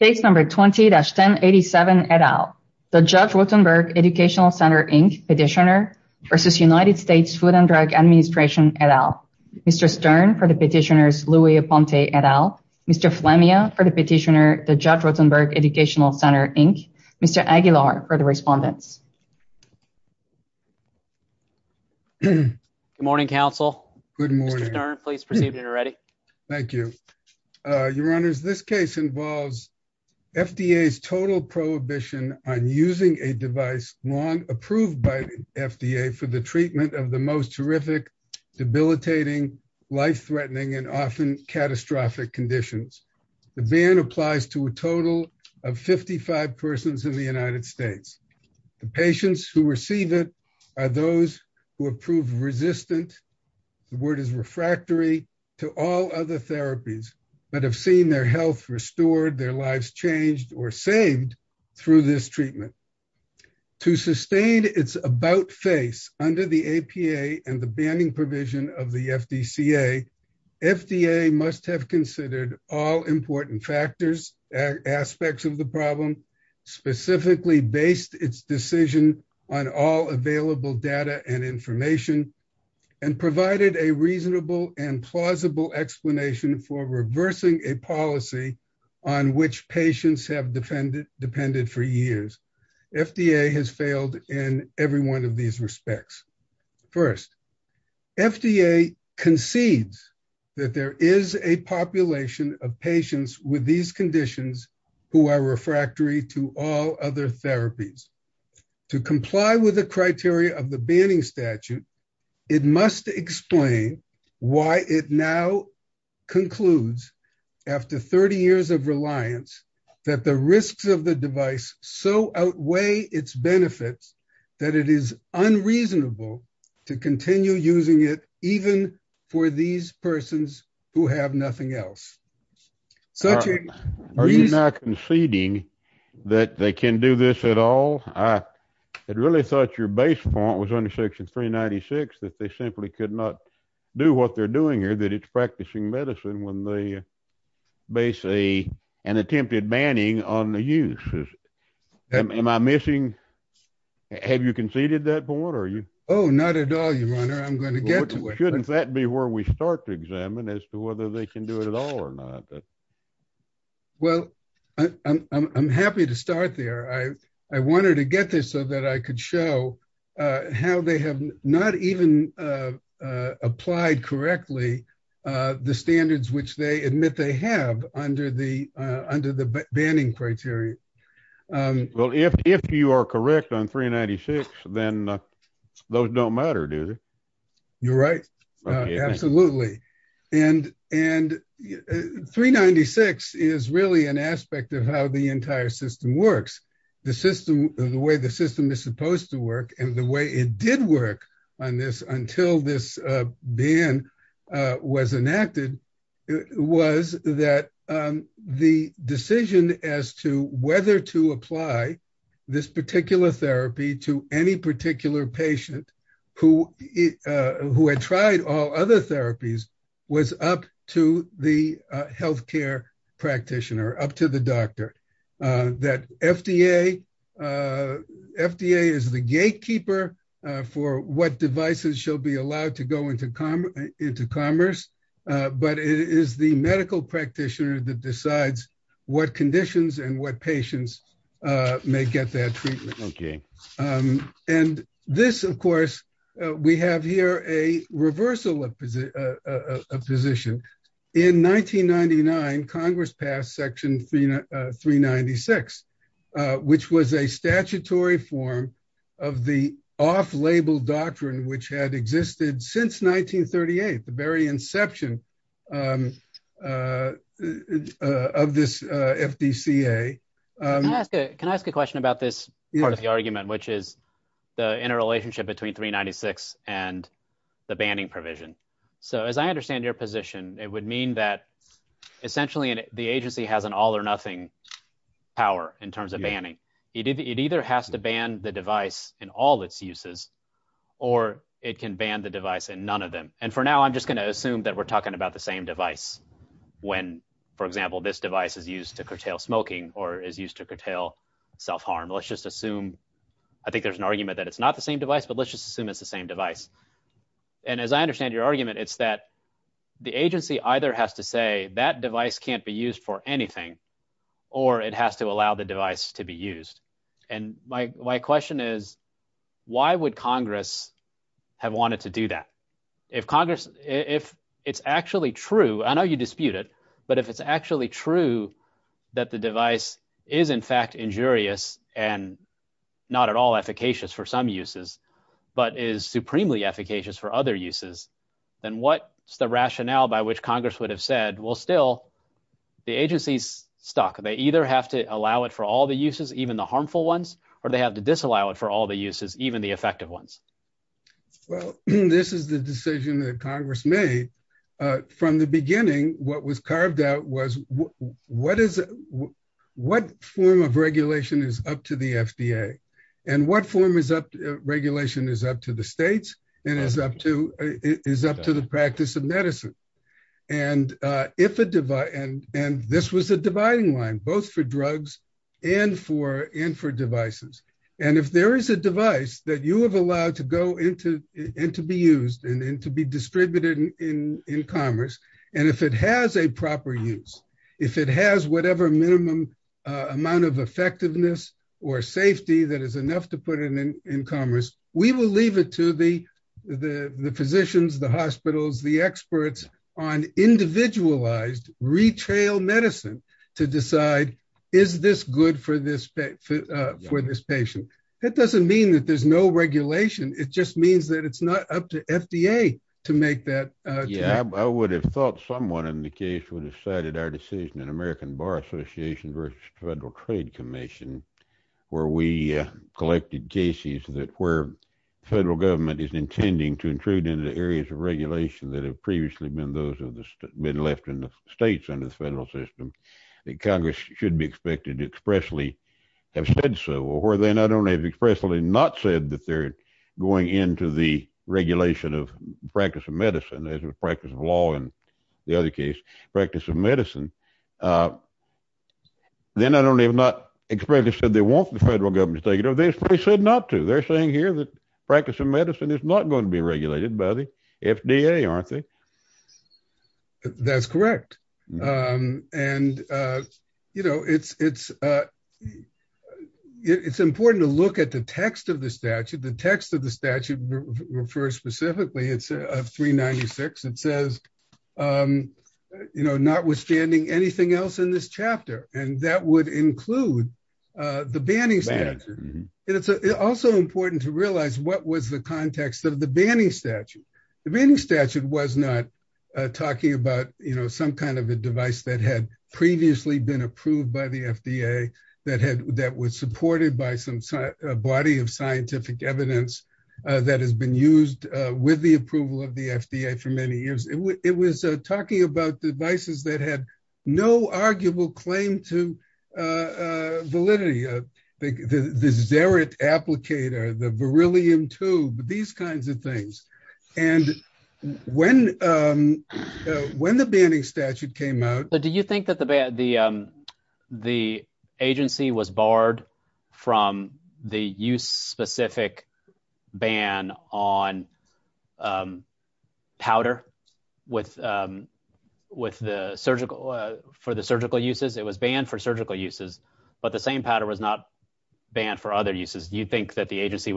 20-1087 et al., the Judge Rotenberg Educational Center, Inc. Petitioner v. United States Food and Drug Administration et al., Mr. Stern for the Petitioners Louis Pompe et al., Mr. Flemming for the Petitioner, the Judge Rotenberg Educational Center, Inc., Mr. Aguilar for the Respondent. Good morning, counsel. Good morning. Mr. Stern, please proceed when you're ready. Thank you. Your Honors, this case involves FDA's total prohibition on using a device long approved by the FDA for the treatment of the most horrific, debilitating, life-threatening, and often catastrophic conditions. The ban applies to a total of 55 persons in the United States. The patients who receive it are those who have proved resistant, the word is refractory, to all other therapies that have seen their health restored, their lives changed, or saved through this treatment. To sustain its about face under the APA and the banning provision of the FDCA, FDA must have considered all important factors, aspects of the problem, specifically based its decision on all available data and information, and provided a reasonable and plausible explanation for reversing a policy on which patients have depended for years. FDA has failed in every one of these respects. First, FDA concedes that there is a population of patients with these conditions who are refractory to all other therapies. To comply with the criteria of the banning statute, it must explain why it now concludes after 30 years of reliance that the risks of the device so outweigh its benefits that it is unreasonable to continue using it even for these persons who have nothing else. Are you now conceding that they can do this at all? I had really thought your base point was under section 396, that they simply could not do what they're doing here, that it's practicing medicine when they base an attempted banning on the use. Am I missing? Have you conceded that point, or are you? Oh, not at all, your honor. I'm going to get to it. Shouldn't that be where we start to examine as to whether they can do it at all or not? Well, I'm happy to start there. I wanted to get this so that I could show how they have not even applied correctly the standards which they admit they have under the banning criteria. Well, if you are correct on 396, then those don't matter, do they? You're right. Absolutely. 396 is really an aspect of how the entire system works. The way the system is supposed to work and the way it did work until this ban was enacted was that the decision as to whether to apply this particular therapy to any particular patient who had tried all other therapies was up to the healthcare practitioner, up to the doctor. That FDA is the gatekeeper for what devices shall be allowed to go into commerce, but it is the medical practitioner that decides what conditions and what patients may get their treatment. Okay. This, of course, we have here a reversal of position. In 1999, Congress passed section 396, which was a statutory form of the off-label doctrine which had existed since 1938, the very inception of this FDCA. Can I ask a question about this part of the argument, which is the interrelationship between 396 and the banning provision? As I understand your position, it would mean that essentially the agency has an all or nothing power in terms of banning. It either has to ban the device in all its uses or it can ban the device in none of them. For now, I'm just going to assume that we're talking about the same device when, for example, this device is used to curtail smoking or is used to curtail self-harm. Let's just assume, I think there's an argument that it's not the same device, but let's just assume it's the same device. As I understand your argument, it's that the agency either has to say that device can't be used for anything or it has to allow the device to be used. My question is, why would Congress have wanted to do that? If it's actually true, I know you dispute it, but if it's actually true that the device is in fact injurious and not at all efficacious for some uses, but is supremely efficacious for other uses, then what's the rationale by which Congress would have said, well, still, the agency's stuck. They either have to allow it for all the uses, even the harmful ones, or they have to disallow it for all the uses, even the effective ones. Well, this is the decision that Congress made. From the beginning, what was carved out was what form of regulation is up to the FDA and what form of regulation is up to the states and is up to the practice of medicine. This was the dividing line, both for drugs and for devices. If there is a device that you have allowed to go into and to be used and to be distributed in commerce, and if it has a proper use, if it has whatever minimum amount of effectiveness or safety that is enough to put it in commerce, we will leave it to the physicians, the hospitals, the experts on individualized retail medicine to decide, is this good for this patient? That doesn't mean that there's no regulation. It just means that it's not up to FDA to make that. I would have thought someone in the case would have cited our decision in American Bar Association versus Federal Trade Commission, where we collected cases where federal government is that have previously been those who have been left in the states and the federal system. Congress should be expected to expressly have said so, or where they not only have expressly not said that they're going into the regulation of practice of medicine as a practice of law, and the other case, practice of medicine, then not only have not expressly said they want the federal government to take over this, but they said not to. They're saying here that practice of medicine is not going to be regulated by the FDA, aren't they? That's correct. It's important to look at the text of the statute. The text of the statute refers specifically, it's 396. It says, notwithstanding anything else in this chapter, and that would include the banning statute. Also important to realize what was the context of the banning statute. The banning statute was not talking about some kind of a device that had previously been approved by the FDA that was supported by some body of scientific evidence that has been used with the approval of the FDA for many years. It was talking about devices that had no arguable claim to validity, the xeric applicator, the beryllium tube, these kinds of things. When the banning statute came out- But do you think that the agency was barred from the use specific ban on powder for the surgical uses? It was banned for surgical uses, but the same powder was not banned for other uses. Do you think that the agency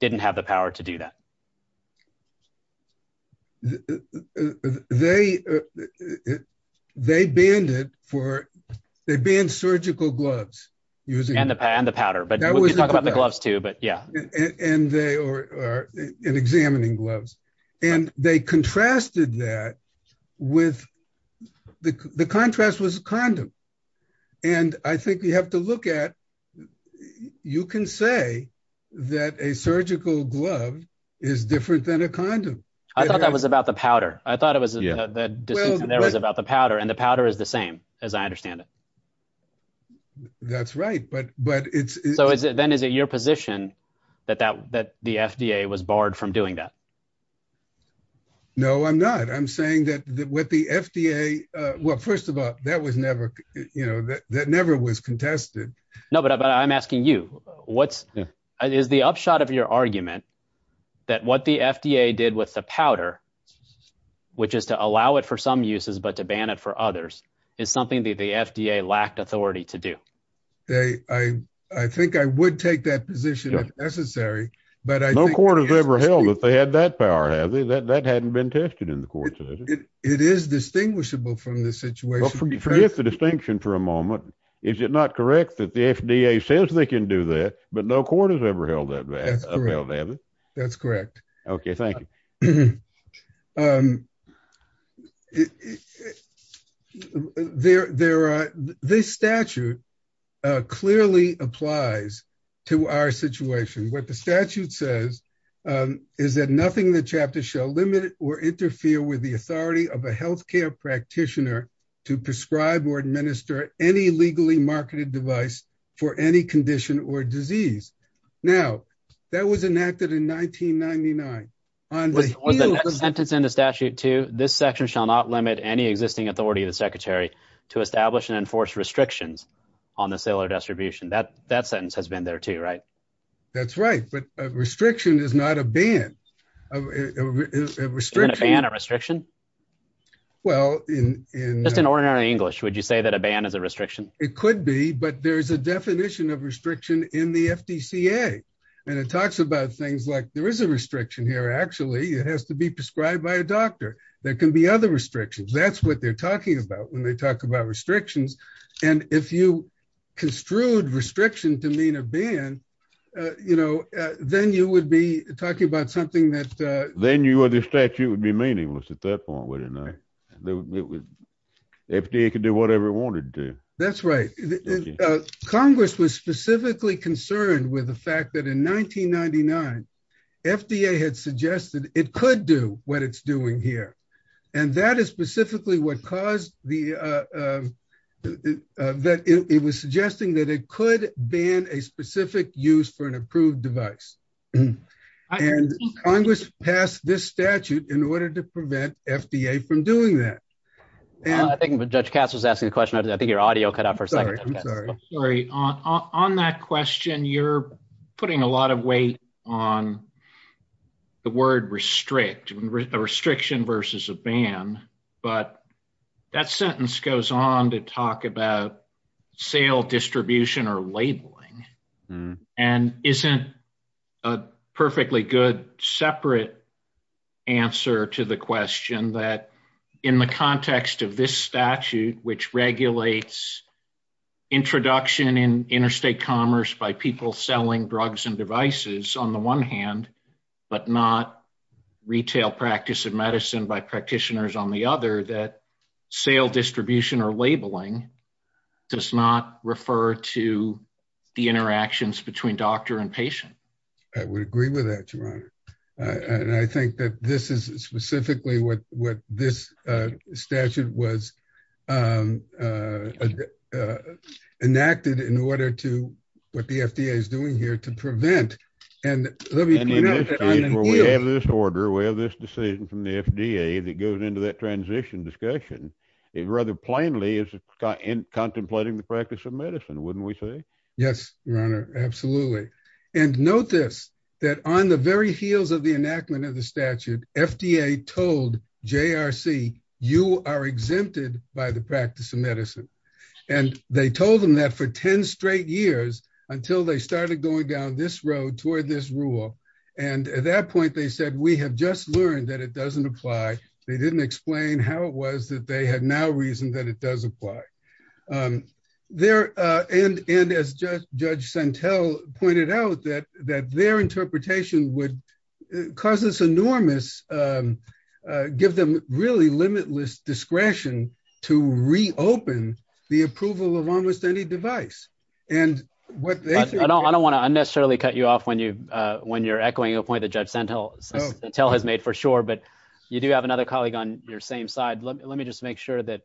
didn't have the power to do that? They banned it for... They banned surgical gloves using- And the powder, but we can talk about the gloves too, but yeah. And examining gloves. They contrasted that with... The contrast was a condom. I think you have to look at... You can say that a surgical glove is different than a condom. I thought that was about the powder. I thought it was about the powder, and the powder is the same as I understand it. That's right, but it's- So then is it your position that the FDA was barred from doing that? No, I'm not. I'm saying that with the FDA... Well, first of all, that never was contested. No, but I'm asking you. Is the upshot of your argument that what the FDA did with the powder, which is to allow it for some uses, but to ban it for others, is something that the FDA lacked authority to do? I think I would take that position if necessary, but I think- No court has ever held that they had that power, has it? That hadn't been tested in the courts, has it? It is distinguishable from the situation- Well, forget the distinction for a moment. Is it not correct that the FDA says they can do that, but no court has ever held that back, has it? That's correct. Okay, thank you. This statute clearly applies to our situation. What the statute says is that nothing in the chapter shall limit or interfere with the authority of a healthcare practitioner to prescribe or administer any legally marketed device for any condition or disease. Now, that was enacted in 1999. On the sentence in the statute too, this section shall not limit any existing authority of the secretary to establish and enforce restrictions on the sale or distribution. That sentence has been there too, right? That's right, but a restriction is not a ban. Isn't a ban a restriction? Well, in- Just in ordinary English, would you say that a ban is a restriction? It could be, but there's a definition of restriction in the FDCA, and it talks about things like there is a restriction here, actually. It has to be prescribed by a doctor. There can be other restrictions. That's what they're talking about when they talk about restrictions. If you construed restriction to mean a ban, then you would be talking about something that- Then the statute would be meaningless at that point, wouldn't it? FDA could do whatever it wanted to. That's right. Congress was specifically concerned with the fact that in 1999, FDA had suggested it could do what it's doing here. That is specifically what caused the- It was suggesting that it could ban a specific use for an approved device. Congress passed this statute in order to prevent FDA from doing that. I think Judge Katz was asking a question. I think your audio cut out for a second. I'm sorry. I'm sorry. On that question, you're putting a lot of weight on the word restrict, a restriction versus a ban. That sentence goes on to talk about sale distribution or labeling. Isn't a perfectly good separate answer to the question that in the context of this statute, which regulates introduction in interstate commerce by people selling drugs and devices on the one hand, but not retail practice of medicine by practitioners on the other, that sale distribution or labeling does not refer to the interactions between doctor and patient. I would agree with that, Your Honor. I think that this is specifically what this statute was enacted in order to what the FDA is doing here to prevent. We have this order. We have this decision from the FDA that goes into that transition discussion. It rather plainly is contemplating the practice of medicine, wouldn't we say? Yes, Your Honor. Absolutely. Note this, that on the very heels of the enactment of the statute, FDA told JRC, you are exempted by the practice of medicine. They told them that for 10 straight years until they started going down this road toward this rule. At that point, they said, we have just learned that it doesn't apply. They didn't explain how it was that they had now reasoned that it does apply. As Judge Santel pointed out, that their interpretation would cause this enormous, uh, give them really limitless discretion to reopen the approval of almost any device. I don't want to unnecessarily cut you off when you're echoing a point that Judge Santel has made for sure, but you do have another colleague on your same side. Let me just make sure that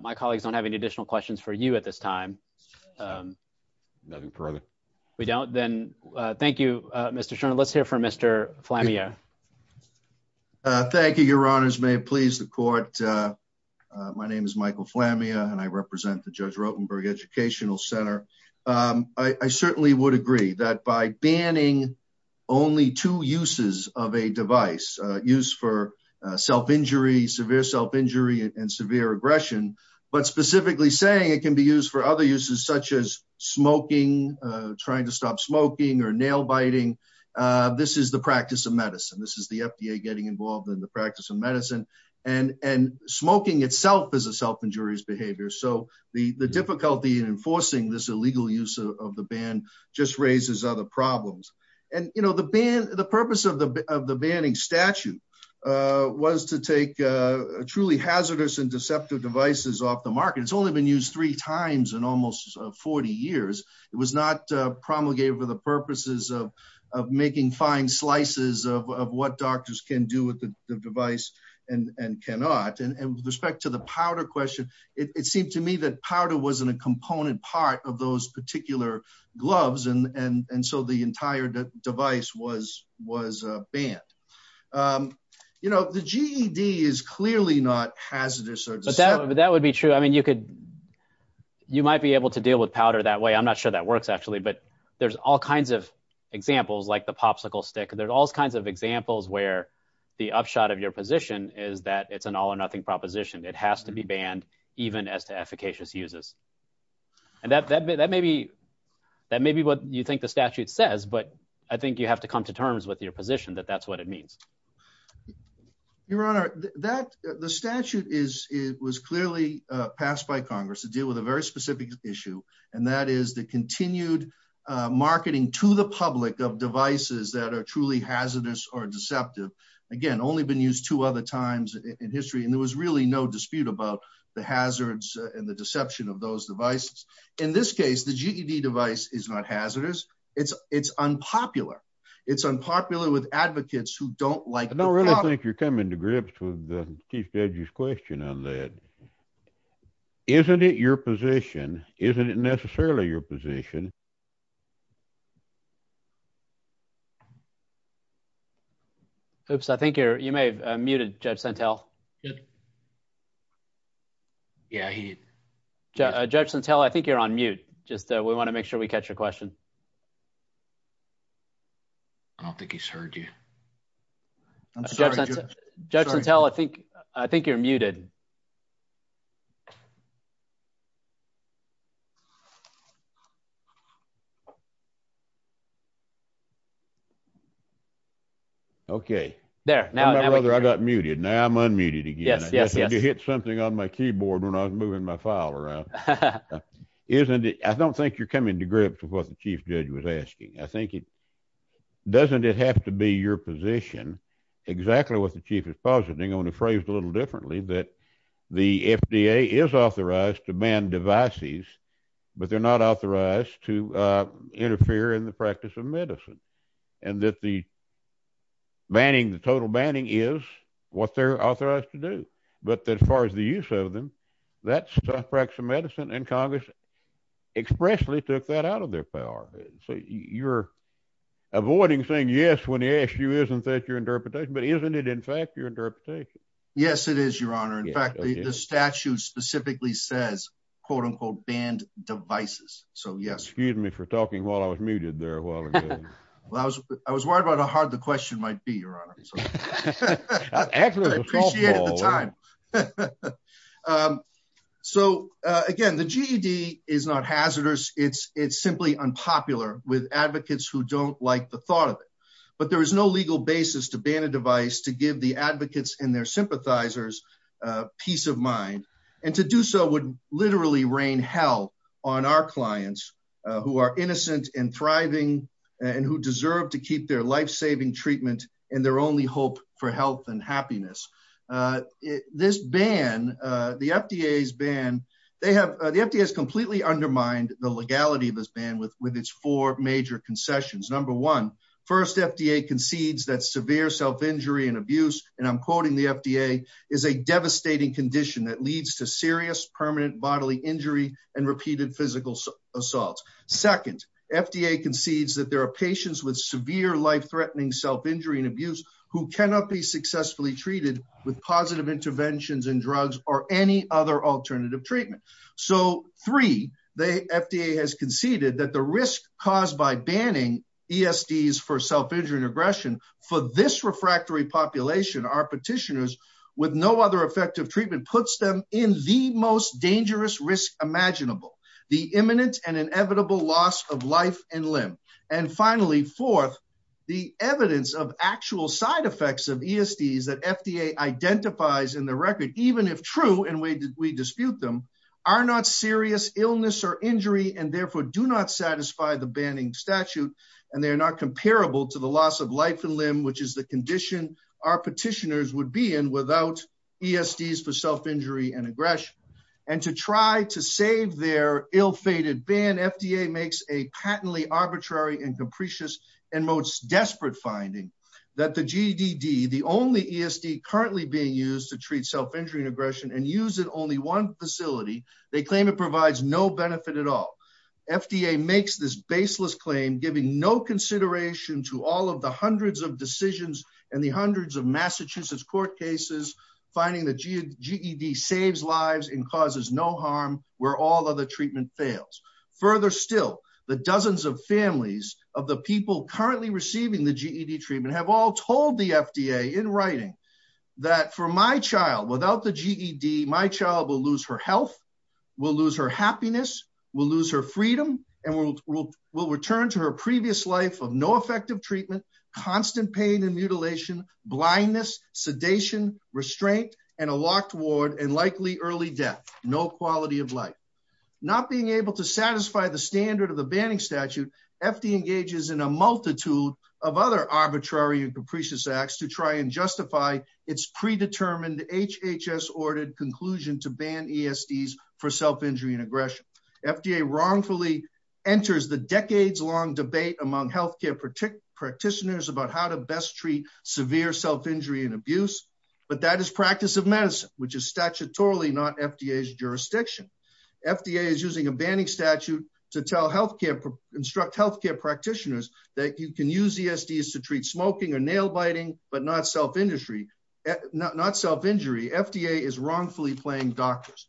my colleagues don't have any additional questions for you at this time. Nothing further. We don't? Then thank you, Mr. Shurner. Let's hear from Mr. Flammia. Thank you, Your Honors. May it please the court. My name is Michael Flammia, and I represent the Judge Rotenberg Educational Center. I certainly would agree that by banning only two uses of a device used for self-injury, severe self-injury and severe aggression, but specifically saying it can be used for other uses such as smoking, trying to stop smoking or nail biting. This is the practice of medicine. This is the FDA getting involved in the practice of medicine. Smoking itself is a self-injurious behavior. The difficulty in enforcing this illegal use of the ban just raises other problems. The purpose of the banning statute was to take truly hazardous and deceptive devices off the market. It's only been used three times in almost 40 years. It was not promulgated for the purposes of making fine slices of what doctors can do with the device and cannot. And with respect to the powder question, it seemed to me that powder wasn't a component part of those particular gloves, and so the entire device was banned. The GED is clearly not hazardous or deceptive. That would be true. You might be able to deal with powder that way. I'm not sure that works actually, but there's all kinds of examples like the popsicle stick. There's all kinds of examples where the upshot of your position is that it's an all or nothing proposition. It has to be banned even as to efficacious uses. And that may be what you think the statute says, but I think you have to come to terms with your position that that's what it means. Your Honor, the statute was clearly passed by Congress to deal with a very specific issue, and that is the continued marketing to the public of devices that are truly hazardous or deceptive. Again, only been used two other times in history, and there was really no dispute about the hazards and the deception of those devices. In this case, the GED device is not hazardous. It's unpopular. It's unpopular with advocates who don't like powder. I don't really think you're coming to grips with Chief Judge's question on that. Isn't it your position? Isn't it necessarily your position? Oops, I think you may have muted Judge Sentelle. Yeah, Judge Sentelle, I think you're on mute. Just we want to make sure we catch your question. I don't think he's heard you. Judge Sentelle, I think you're muted. Okay, now I got muted. Now I'm unmuted again. I guess I did hit something on my keyboard when I was moving my file around. I don't think you're coming to grips with what the Chief Judge was asking. I think it doesn't have to be your position. Exactly what the Chief is positing, only phrased a little differently, but the FDA is authorized to ban devices, but they're not authorized to interfere in the practice of medicine, and that the banning, the total banning is what they're authorized to do. But as far as the use of them, that's the practice of medicine, and Congress expressly took that out of their power. So you're avoiding saying yes when the issue isn't that your interpretation, but isn't it in fact your interpretation? Yes, it is, Your Honor. In fact, the statute specifically says, quote unquote, banned devices. So yes. Excuse me for talking while I was muted there. I was worried about how hard the question might be, Your Honor. So again, the GED is not hazardous. It's simply unpopular with advocates who don't like the thought of it. But there is no legal basis to ban a device to give the advocates and their sympathizers peace of mind. And to do so would literally rain hell on our clients who are innocent and thriving, and who deserve to keep their life-saving treatment and their only hope for health and happiness. This ban, the FDA's ban, the FDA has completely undermined the legality of this ban with its four major concessions. Number one, first, FDA concedes that severe self-injury and abuse, and I'm quoting the FDA, is a devastating condition that leads to serious permanent bodily injury and repeated physical assaults. Second, FDA concedes that there are patients with severe life-threatening self-injury and abuse who cannot be successfully treated with positive interventions and drugs or any other alternative treatment. So, three, the FDA has conceded that the risk caused by banning ESDs for self-injury and aggression for this refractory population, our petitioners, with no other effective treatment, puts them in the most dangerous risk imaginable, the imminent and inevitable loss of life and limb. And finally, fourth, the evidence of actual side effects of ESDs that FDA identifies in true, and we dispute them, are not serious illness or injury and therefore do not satisfy the banning statute, and they're not comparable to the loss of life and limb, which is the condition our petitioners would be in without ESDs for self-injury and aggression. And to try to save their ill-fated ban, FDA makes a patently arbitrary and capricious and most desperate finding that the GDD, the only ESD currently being used to treat self-injury and aggression and used in only one facility, they claim it provides no benefit at all. FDA makes this baseless claim, giving no consideration to all of the hundreds of decisions and the hundreds of Massachusetts court cases, finding the GED saves lives and causes no harm where all other treatment fails. Further still, the dozens of families of the people currently receiving the GED treatment have all told the FDA in writing that for my child, without the GED, my child will lose her health, will lose her happiness, will lose her freedom, and will return to her previous life of no effective treatment, constant pain and mutilation, blindness, sedation, restraint, and a locked ward and likely early death, no quality of life. Not being able to satisfy the standard of the banning statute, FDA engages in a multitude of other arbitrary and capricious acts to try and justify its predetermined HHS-ordered conclusion to ban ESDs for self-injury and aggression. FDA wrongfully enters the decades-long debate among healthcare practitioners about how to best treat severe self-injury and abuse, but that is practice of medicine, which is statutorily not FDA's jurisdiction. FDA is using a banning statute to tell healthcare, instruct healthcare practitioners that you can use ESDs to treat smoking or nail biting, but not self-injury, FDA is wrongfully playing doctors.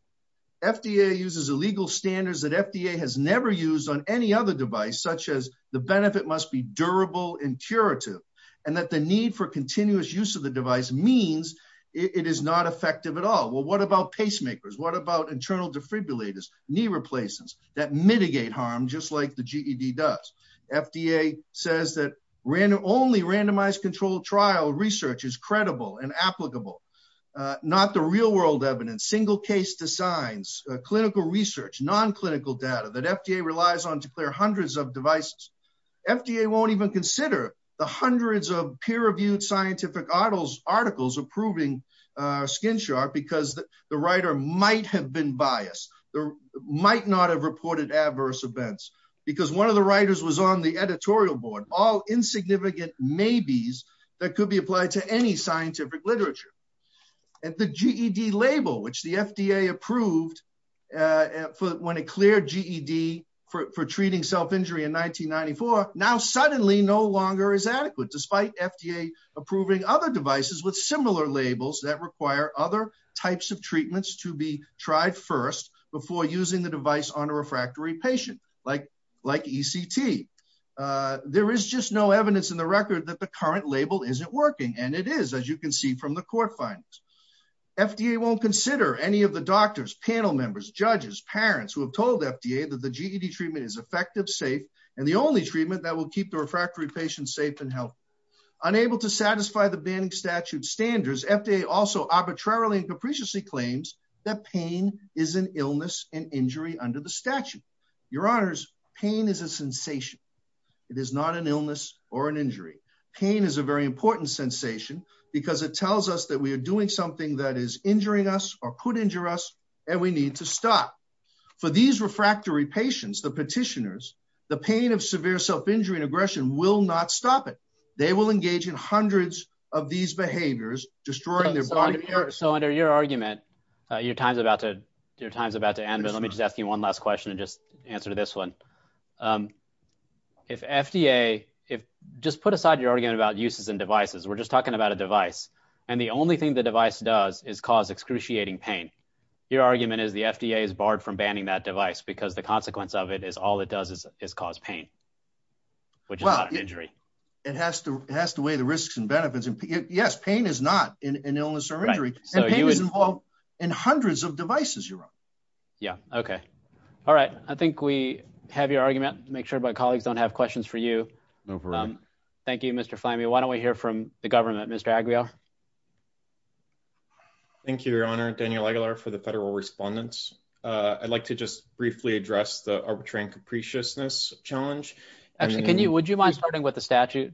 FDA uses illegal standards that FDA has never used on any other device, such as the benefit must be durable and curative, and that the need for continuous use of the device means it is not effective at all. Well, what about pacemakers? What about internal defibrillators, knee replacements that mitigate harm just like the GED does? FDA says that only randomized controlled trial research is credible and applicable, not the real-world evidence, single case designs, clinical research, non-clinical data that FDA relies on to clear hundreds of devices. FDA won't even consider the hundreds of peer-reviewed scientific articles approving SkinSharp because the writer might have been biased, might not have reported adverse events, because one of the writers was on the editorial board, all insignificant maybes that could be applied to any scientific literature. And the GED label, which the FDA approved when it cleared GED for treating self-injury in 1994, now suddenly no longer is adequate, despite FDA approving other devices with similar labels that require other types of treatments to be tried first before using the device on a refractory patient, like ECT. There is just no evidence in the record that the current label isn't working, and it is, as you can see from the court findings. FDA won't consider any of the doctors, panel members, judges, parents who have told FDA that the GED treatment is effective, safe, and the only treatment that will keep the refractory patient safe and healthy. Unable to satisfy the banning statute standards, FDA also arbitrarily and capriciously claims that pain is an illness and injury under the statute. Your Honors, pain is a sensation. It is not an illness or an injury. Pain is a very important sensation, because it tells us that we are doing something that is injuring us or could injure us, and we need to stop. For these refractory patients, the petitioners, the pain of severe self-injury and aggression will not stop it. They will engage in hundreds of these behaviors, destroying their body and heart. So, under your argument, your time is about to end, and let me just ask you one last question and just answer this one. Just put aside your argument about uses and devices. We are just talking about a device, and the only thing the device does is cause excruciating pain. Your argument is the FDA is barred from banning that device, because the consequence of it is all it does is cause pain, which is not an injury. It has to weigh the risks and benefits. Yes, pain is not an illness or injury, and pain is involved in hundreds of devices you run. Yeah, okay. All right. I think we have your argument. Make sure my colleagues don't have questions for you. Thank you, Mr. Flamy. Why don't we hear from the government? Mr. Aguilar? Thank you, Your Honor. Daniel Aguilar for the federal respondents. I'd like to just briefly address the arbitrary and capriciousness challenge. Actually, would you mind starting with the statute?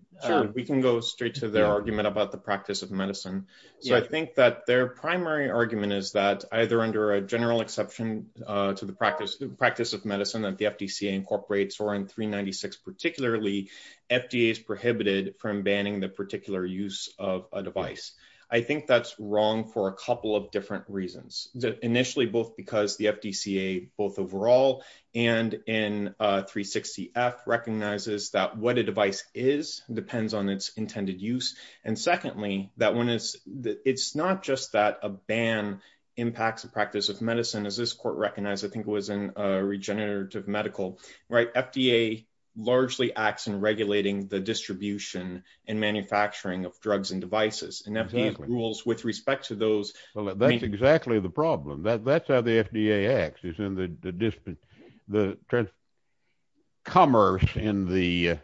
We can go straight to the argument about the practice of medicine. So I think that their primary argument is that either under a general exception to the practice of medicine that the FDCA incorporates or in 396 particularly, FDA is prohibited from banning the particular use of a device. I think that's wrong for a couple of different reasons. Initially, both because the FDCA both overall and in 360F recognizes that what a device is depends on its intended use. And secondly, that one is that it's not just that a ban impacts the practice of medicine as this court recognized. I think it was in regenerative medical, right? FDA largely acts in regulating the distribution and manufacturing of drugs and devices and FDA rules with respect to those. Well, that's exactly the problem. That's how the FDA acts. It's in the commerce in the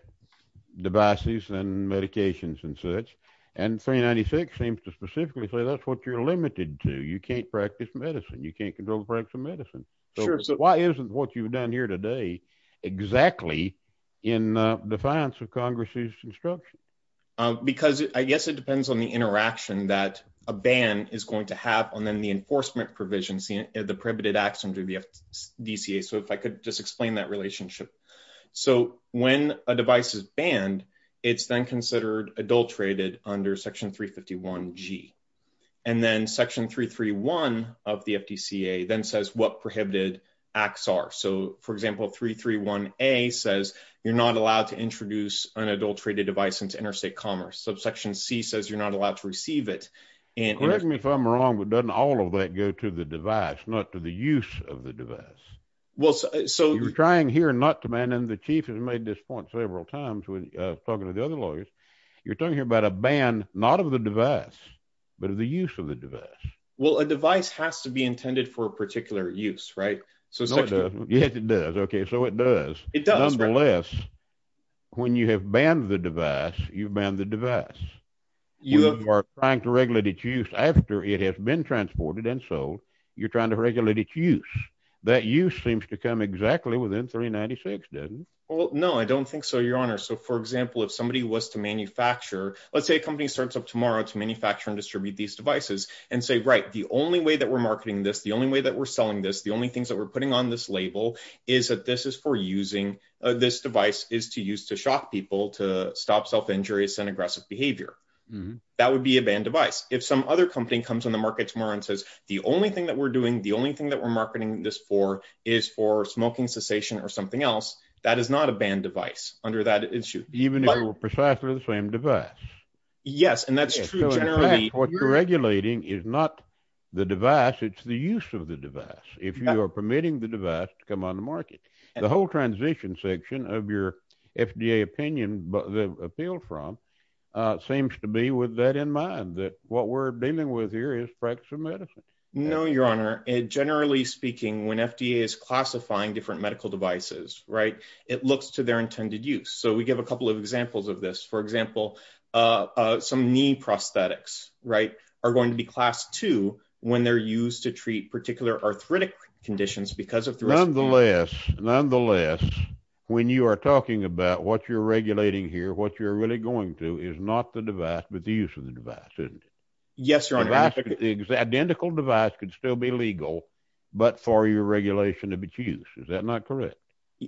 devices and medications and such. And 396 seems to specifically say that's what you're limited to. You can't practice medicine. You can't control the practice of medicine. So why isn't what you've done here today exactly in defiance of Congress's instruction? Because I guess it depends on the interaction that a ban is going to have and then the enforcement provisions, the prohibited acts under the FDCA. So if I could just explain that relationship. So when a device is banned, it's then considered adulterated under section 351G. And then section 331 of the FDCA then says what prohibited acts are. So for example, 331A says you're not allowed to introduce an adulterated device into interstate commerce. So section C says you're not allowed to receive it. Correct me if I'm wrong, but doesn't all of that go to the device, not to the use of the device? So you're trying here not to, man, and the chief has made this point several times with talking to the other lawyers. You're talking about a ban, not of the device, but of the use of the device. Well, a device has to be intended for a particular use, right? So it does. Yes, it does. OK, so it does. It does. Nonetheless, when you have banned the device, you've banned the device. You are trying to regulate its use after it has been transported and sold. You're trying to regulate its use. That use seems to come exactly within 396, doesn't it? Well, no, I don't think so, Your Honor. So for example, if somebody was to manufacture, let's say a company starts up tomorrow to manufacture and distribute these devices and say, right, the only way that we're marketing this, the only way that we're selling this, the only things that we're putting on this label is that this is for using, this device is to use to shock people, to stop self-injurious and aggressive behavior. That would be a banned device. If some other company comes on the market tomorrow and says, the only thing that we're doing, the only thing that we're marketing this for is for smoking cessation or something else, that is not a banned device under that issue. Even if it were precisely the same device. Yes, and that's true generally. What you're regulating is not the device, it's the use of the device. If you are permitting the device to come on the market, the whole transition section of your FDA opinion, the appeal from, seems to be with that in mind, that what we're dealing with here is practice of medicine. No, Your Honor. Generally speaking, when FDA is classifying different medical devices, right, it looks to their intended use. So we give a couple of examples of this. For example, some knee prosthetics, right, are going to be class two when they're used to treat particular arthritic conditions because of the- Nonetheless, when you are talking about what you're regulating here, what you're really going to is not the device, but the use of the device, isn't it? Yes, Your Honor. The identical device could still be legal, but for your regulation of its use. Is that not correct?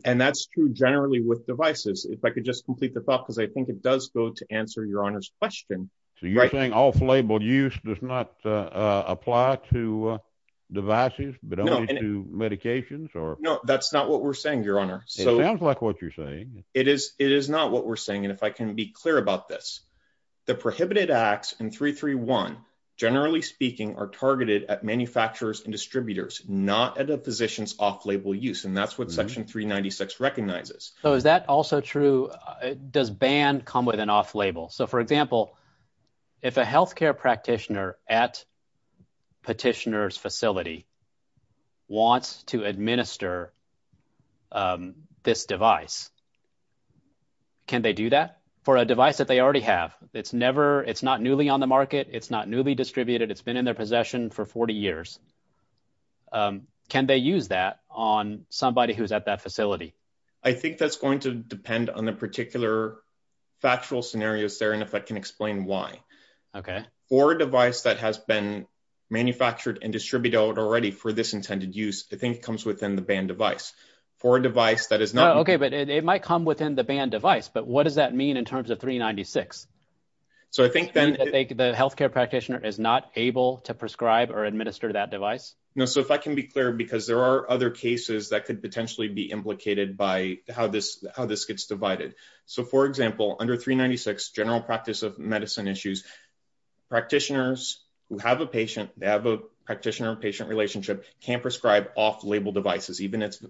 And that's true generally with devices. If I could just complete the thought, because I think it does go to answer Your Honor's question. So you're saying off-label use does not apply to devices, but only to medications or- No, that's not what we're saying, Your Honor. It sounds like what you're saying. It is not what we're saying. And if I can be clear about this, the prohibited acts in 331, generally speaking, are targeted at manufacturers and distributors, not at a physician's off-label use. And that's what section 396 recognizes. So is that also true? Does ban come with an off-label? So for example, if a healthcare practitioner at petitioner's facility wants to administer this device, can they do that for a device that they already have? It's not newly on the market. It's not newly distributed. It's been in their possession for 40 years. I think that's going to depend on the particular factual scenarios there, and if I can explain why. Okay. For a device that has been manufactured and distributed already for this intended use, I think it comes within the ban device. For a device that is not- Okay, but it might come within the ban device, but what does that mean in terms of 396? The healthcare practitioner is not able to prescribe or administer that device? So if I can be clear, because there are other cases that could potentially be implicated by how this gets divided. So for example, under 396, general practice of medicine issues, practitioners who have a patient, they have a practitioner-patient relationship, can't prescribe off-label devices, even if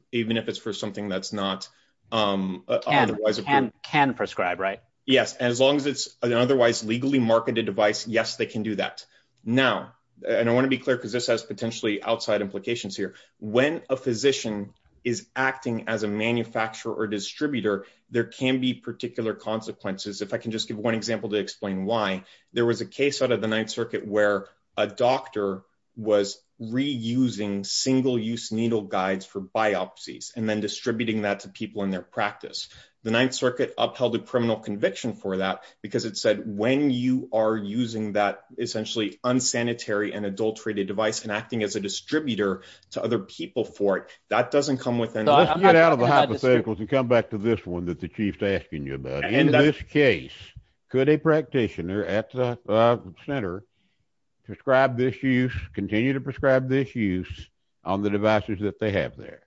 it's for something that's not otherwise- Can prescribe, right? Yes, as long as it's an otherwise legally marketed device, yes, they can do that. Now, and I want to be clear because this has potentially outside implications here. When a physician is acting as a manufacturer or distributor, there can be particular consequences. If I can just give one example to explain why. There was a case out of the Ninth Circuit where a doctor was reusing single-use needle guides for biopsies and then distributing that to people in their practice. The Ninth Circuit upheld a criminal conviction for that because it said, when you are using that essentially unsanitary and adulterated device and acting as a distributor to other people for it, that doesn't come within- Let's get out of the hypotheticals and come back to this one that the Chief's asking you about. In this case, could a practitioner at the center prescribe this use, continue to prescribe this use on the devices that they have there?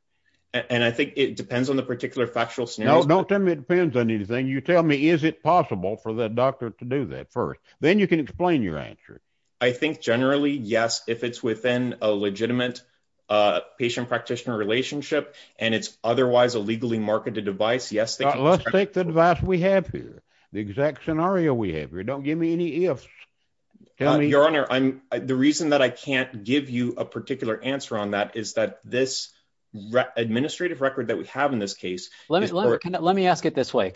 And I think it depends on the particular factual scenario. No, don't tell me it depends on anything. You tell me, is it possible for the doctor to do that first? Then you can explain your answers. I think generally, yes. If it's within a legitimate patient-practitioner relationship and it's otherwise a legally marketed device, yes. Let's take the device we have here, the exact scenario we have here. Don't give me any ifs. Your Honor, the reason that I can't give you a particular answer on that is that this administrative record that we have in this case- Let me ask it this way.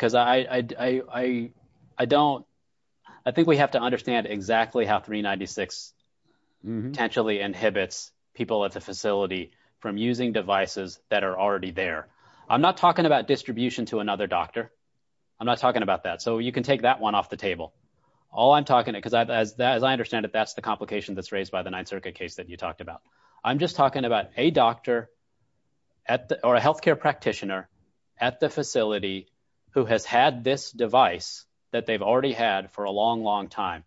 I think we have to understand exactly how 396 potentially inhibits people at the facility from using devices that are already there. I'm not talking about distribution to another doctor. I'm not talking about that. You can take that one off the table. All I'm talking about, because as I understand it, that's the complication that's raised by the Ninth Circuit case that you talked about. I'm just talking about a doctor or a healthcare practitioner at the facility who has had this device that they've already had for a long, long time.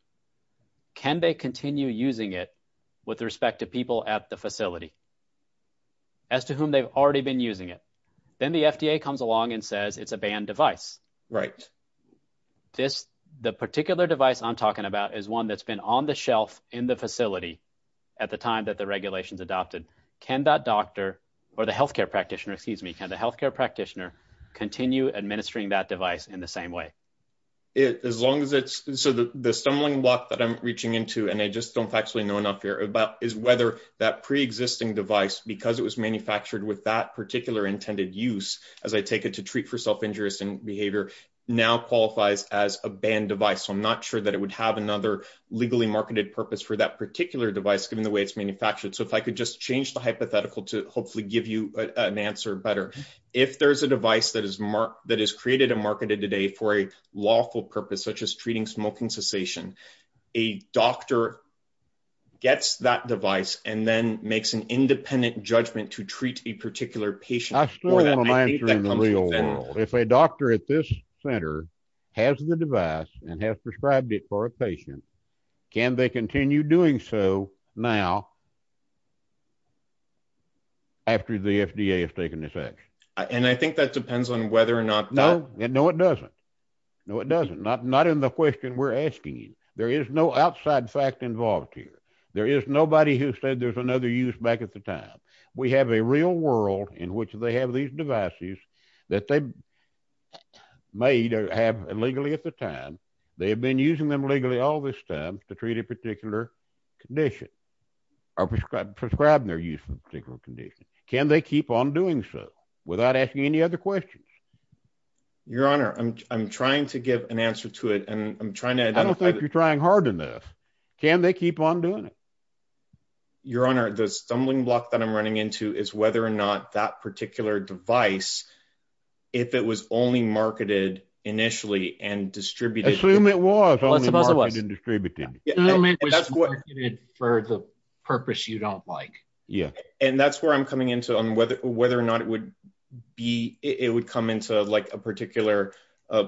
Can they continue using it with respect to people at the facility as to whom they've already been using it? Then the FDA comes along and says it's a banned device. Right. The particular device I'm talking about is one that's been on the shelf in the facility at the time that the regulations adopted. Can that doctor or the healthcare practitioner- Excuse me. Can the healthcare practitioner continue administering that device in the same way? As long as it's- So the stumbling block that I'm reaching into, and I just don't actually know enough here about, is whether that pre-existing device, because it was manufactured with that particular intended use, as I take it to treat for self-injurious behavior, now qualifies as a banned device. So I'm not sure that it would have another legally marketed purpose for that particular device, given the way it's manufactured. So if I could just change the hypothetical to hopefully give you an answer better. If there's a device that is created and marketed today for a lawful purpose, such as treating smoking cessation, a doctor gets that device and then makes an independent judgment to treat a particular patient- I still have a mantra in the real world. If a doctor at this center has the device and has prescribed it for a patient, can they continue doing so now after the FDA has taken effect? And I think that depends on whether or not- No, no, it doesn't. No, it doesn't. Not in the question we're asking you. There is no outside fact involved here. There is nobody who said there's another use back at the time. We have a real world in which they have these devices that they may have illegally at the time. They have been using them legally all this time to treat a particular condition or prescribed their use for a particular condition. Can they keep on doing so without asking any other questions? Your Honor, I'm trying to give an answer to it and I'm trying to- I don't think you're trying hard enough. Can they keep on doing it? Your Honor, the stumbling block that I'm running into is whether or not that particular device, if it was only marketed initially and distributed- Assume it was only marketed and distributed. Assume it was marketed for the purpose you don't like. Yeah. And that's where I'm coming into on whether or not it would come into like a particular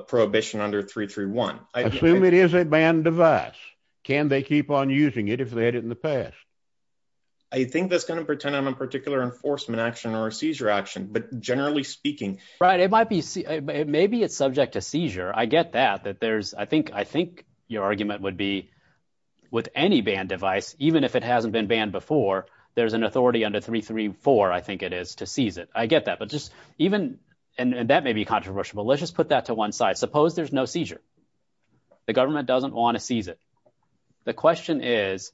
prohibition under 331. Assume it is a banned device. Can they keep on using it if they had it in the past? I think that's going to depend on a particular enforcement action or a seizure action, but generally speaking- Right. It might be- It may be a subject to seizure. I get that. I think your argument would be with any banned device, even if it hasn't been banned before, there's an authority under 334, I think it is, to seize it. I get that, but just even- And that may be controversial, but let's just put that to one side. Suppose there's no seizure. The government doesn't want to seize it. The question is,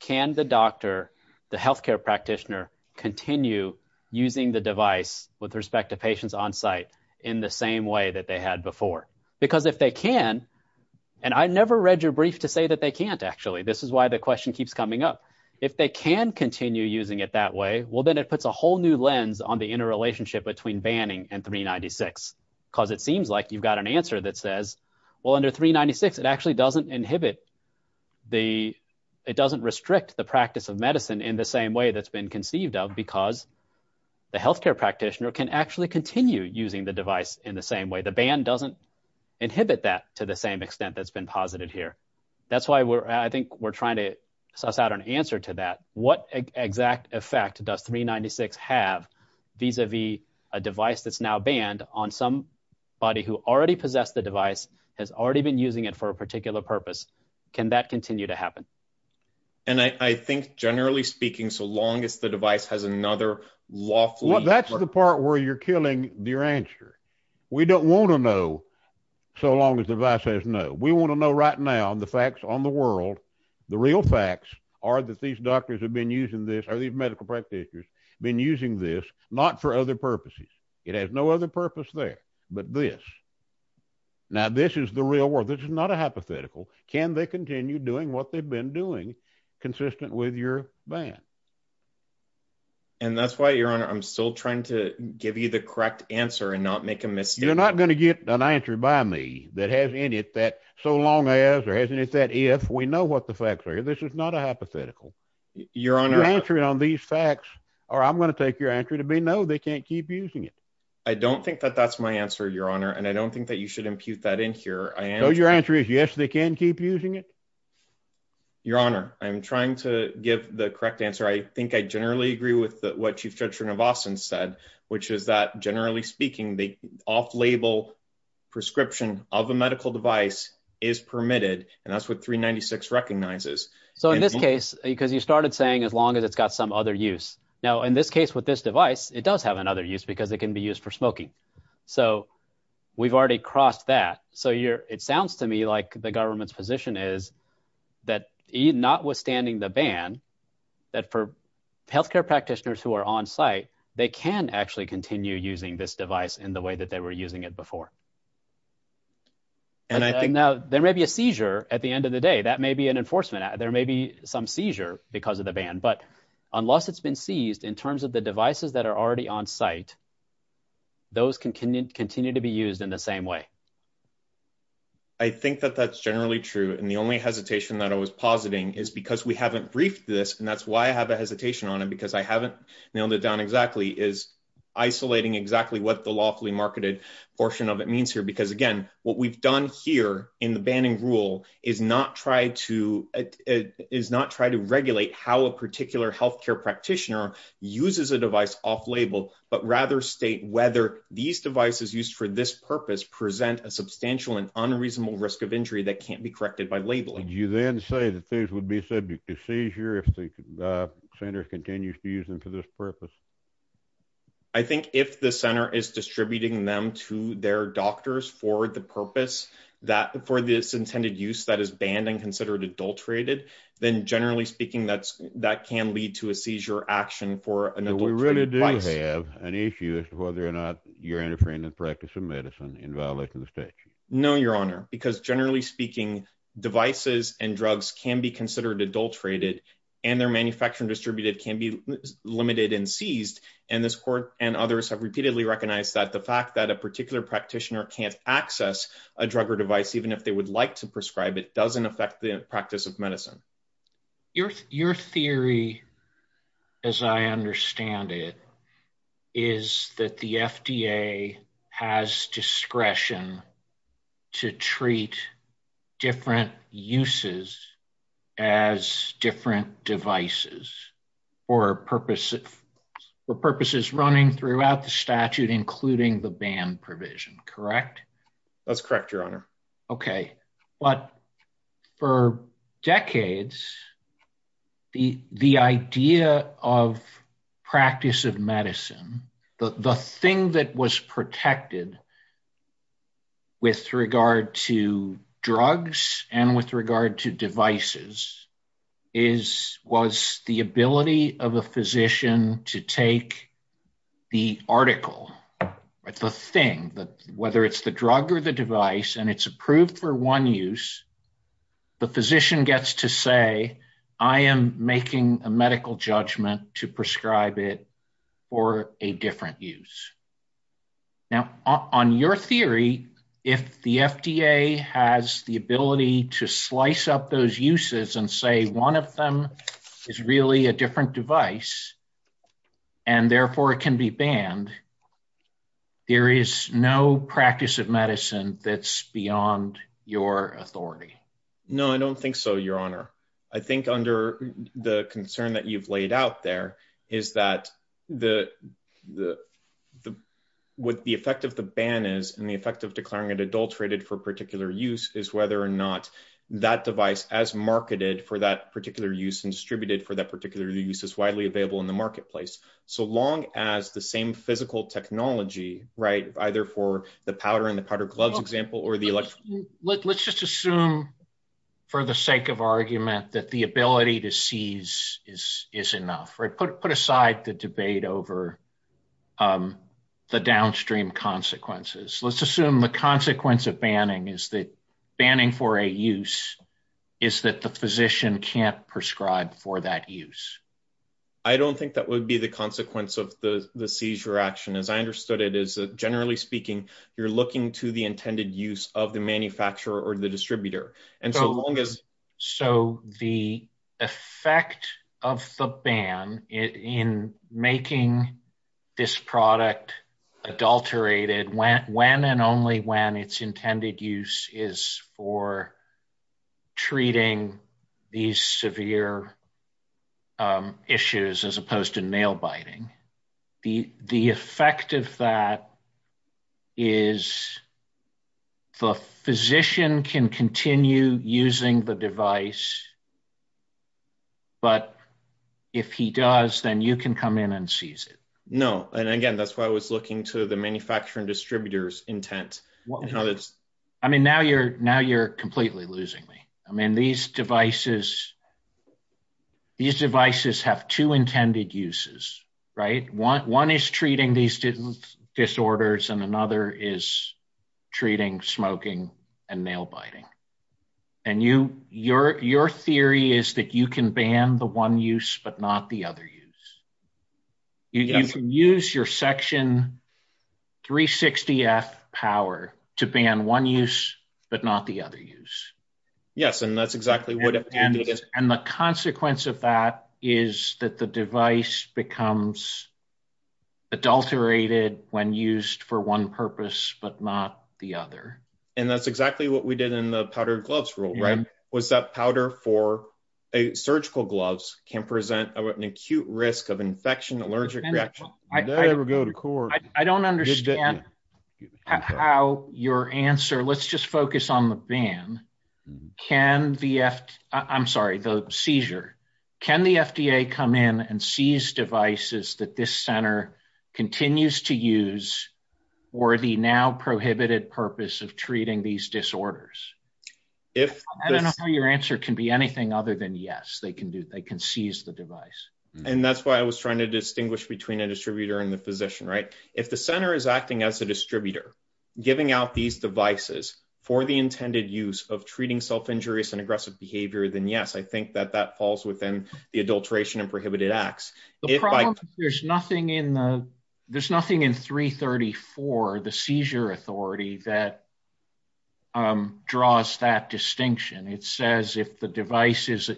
can the doctor, the healthcare practitioner, continue using the device with respect to patients on site in the same way that they had before? Because if they can, and I never read your brief to say that they can't actually. This is why the question keeps coming up. If they can continue using it that way, well, then it puts a whole new lens on the interrelationship between banning and 396. Because it seems like you've got an answer that says, well, under 396, it actually doesn't inhibit the- it doesn't restrict the practice of medicine in the same way that's been conceived of, because the healthcare practitioner can actually continue using the device in the same way. The ban doesn't inhibit that to the same extent that's been posited here. That's why I think we're trying to suss out an answer to that. What exact effect does 396 have vis-a-vis a device that's now banned on somebody who already possessed the device, has already been using it for a particular purpose? Can that continue to happen? And I think, generally speaking, so long as the device has another lawful- Well, that's the part where you're killing your answer. We don't want to know so long as the device says no. We want to know right now the facts on the world. The real facts are that these doctors have been using this, or these medical practitioners have been using this, not for other purposes. It has no other purpose there, but this. Now, this is the real world. This is not a hypothetical. Can they continue doing what they've been doing, consistent with your ban? And that's why, Your Honor, I'm still trying to give you the correct answer and not make a mistake. You're not going to get an answer by me that has any effect so long as, or has any effect if, we know what the facts are. This is not a hypothetical. Your Honor- Your answer on these facts, or I'm going to take your answer to be no, they can't keep using it. I don't think that that's my answer, Your Honor, and I don't think that you should impute that in here. So, your answer is, yes, they can keep using it? Your Honor, I'm trying to give the correct answer. I think I generally agree with what Chief Judiciary Navassan said, which is that, generally speaking, the off-label prescription of a medical device is permitted, and that's what 396 recognizes. So, in this case, because you started saying, as long as it's got some other use. Now, in this case, with this device, it does have another use, because it can be used for smoking. So, we've already crossed that. So, it sounds to me like the government's position is that, notwithstanding the ban, that for healthcare practitioners who are on-site, they can actually continue using this device in the way that they were using it before. And I think, now, there may be a seizure at the end of the day. That may be an enforcement. There may be some seizure because of the ban, but unless it's been seized, in terms of the devices that are already on-site, those can continue to be used in the same way. I think that that's generally true, and the only hesitation that I was positing is because we haven't briefed this, and that's why I have a hesitation on it, because I haven't nailed it down exactly, is isolating exactly what the lawfully marketed portion of it means here. Because, again, what we've done here in the banning rule is not try to regulate how a particular healthcare practitioner uses a device off-label, but rather state whether these devices used for this purpose present a substantial and unreasonable risk of injury that can't be corrected by labeling. Did you then say that these would be subject to seizure if the center continues to use them for this purpose? I think if the center is distributing them to their doctors for the purpose, for this intended use that is banned and considered adulterated, then, generally speaking, that can lead to a seizure action for an adulterated device. We really do have an issue as to whether or not you're interfering in the practice of medicine in violating the state. No, Your Honor, because, generally speaking, devices and drugs can be considered adulterated, and they're manufactured and distributed can be limited and seized. And this court and others have repeatedly recognized that the fact that a particular practitioner can't access a drug or device, even if they would like to prescribe it, doesn't affect the practice of medicine. Your theory, as I understand it, is that the FDA has discretion to treat different uses as different devices for purposes running throughout the statute, including the ban provision, correct? That's correct, Your Honor. Okay. But for decades, the idea of practice of medicine, the thing that was protected with regard to drugs and with regard to devices was the ability of a physician to take the article, the thing, whether it's the drug or the device, and it's approved for one use, the physician gets to say, I am making a medical judgment to prescribe it for a different use. Now, on your theory, if the FDA has the ability to slice up those uses and say one of them is really a different device and, therefore, it can be banned, there is no practice of medicine that's beyond your authority. No, I don't think so, Your Honor. I think under the concern that you've laid out there is that what the effect of the ban is and the effect of declaring it adulterated for a particular use is whether or not that device, as marketed for that particular use and distributed for that particular use, is widely available in the marketplace. So long as the same physical technology, right, either for the powder in the powder glove example or the electronic... Let's just assume, for the sake of argument, that the ability to seize is enough, right? Put aside the debate over the downstream consequences. Let's assume the consequence of banning is that banning for a use is that the physician can't prescribe for that use. I don't think that would be the consequence of the seizure action. As I understood it, generally speaking, you're looking to the intended use of the manufacturer or the distributor. So the effect of the ban in making this product adulterated when and only when its intended use is for treating these severe issues as opposed to nail biting, the effect of that is the physician can continue using the device, but if he does, then you can come in and seize it. No, and again, that's why I was looking to the manufacturer and distributor's intent. I mean, now you're completely losing me. I mean, these devices have two intended uses. One is treating these disorders, and another is treating smoking and nail biting. And your theory is that you can ban the one use, but not the other use. You can use your section 360F power to ban one use, but not the other use. Yes, and that's exactly what it is. And the consequence of that is that the device becomes adulterated when used for one purpose, but not the other. And that's exactly what we did in the powder gloves rule, right? Was that powder for surgical gloves can present an acute risk of infection, allergic reaction. I don't understand how your answer, let's just focus on the ban. Can the, I'm sorry, the seizure, can the FDA come in and seize devices that this center continues to use for the now prohibited purpose of treating these disorders? I don't know how your answer can be anything other than yes, they can seize the device. And that's why I was trying to distinguish between a distributor and the physician, right? If the center is acting as a distributor, giving out these devices for the intended use of treating self-injurious and aggressive behavior, then yes, I think that that falls within the adulteration and prohibited acts. There's nothing in 334, the seizure authority that draws that distinction. It says if the device is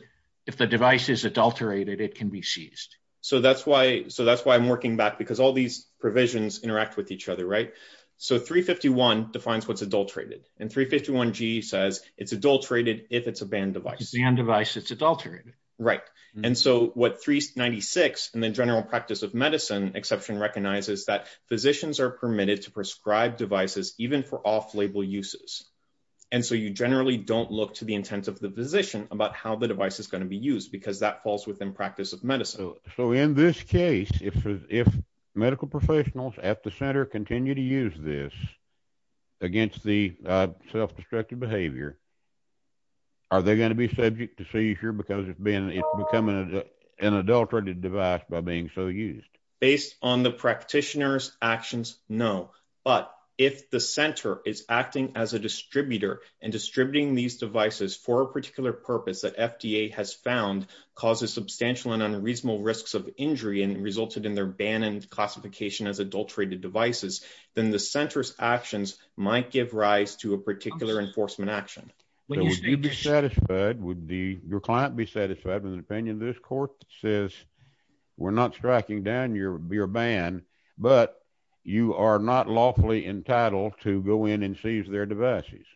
adulterated, it can be seized. So that's why I'm working back because all these provisions interact with each other, right? So 351 defines what's adulterated. And 351G says it's adulterated if it's a banned device. If it's a banned device, it's adulterated. Right. And so what 396 and the general practice of medicine exception recognizes that physicians are permitted to prescribe devices even for off-label uses. And so you generally don't look to the intent of the physician about how the device is going to be used because that falls within practice of medicine. So in this case, if medical professionals at the center continue to use this against the self-destructive behavior, are they going to be subject to seizure because it's becoming an adulterated device by being so used? Based on the practitioner's actions, no. But if the center is acting as a distributor and distributing these devices for a particular purpose that FDA has found causes substantial and unreasonable risks of injury and resulted in their ban and classification as adulterated devices, then the center's actions might give rise to a particular enforcement action. Would you be satisfied, would your client be satisfied in the opinion of this court that says, we're not striking down your ban, but you are not lawfully entitled to go in and seize their devices?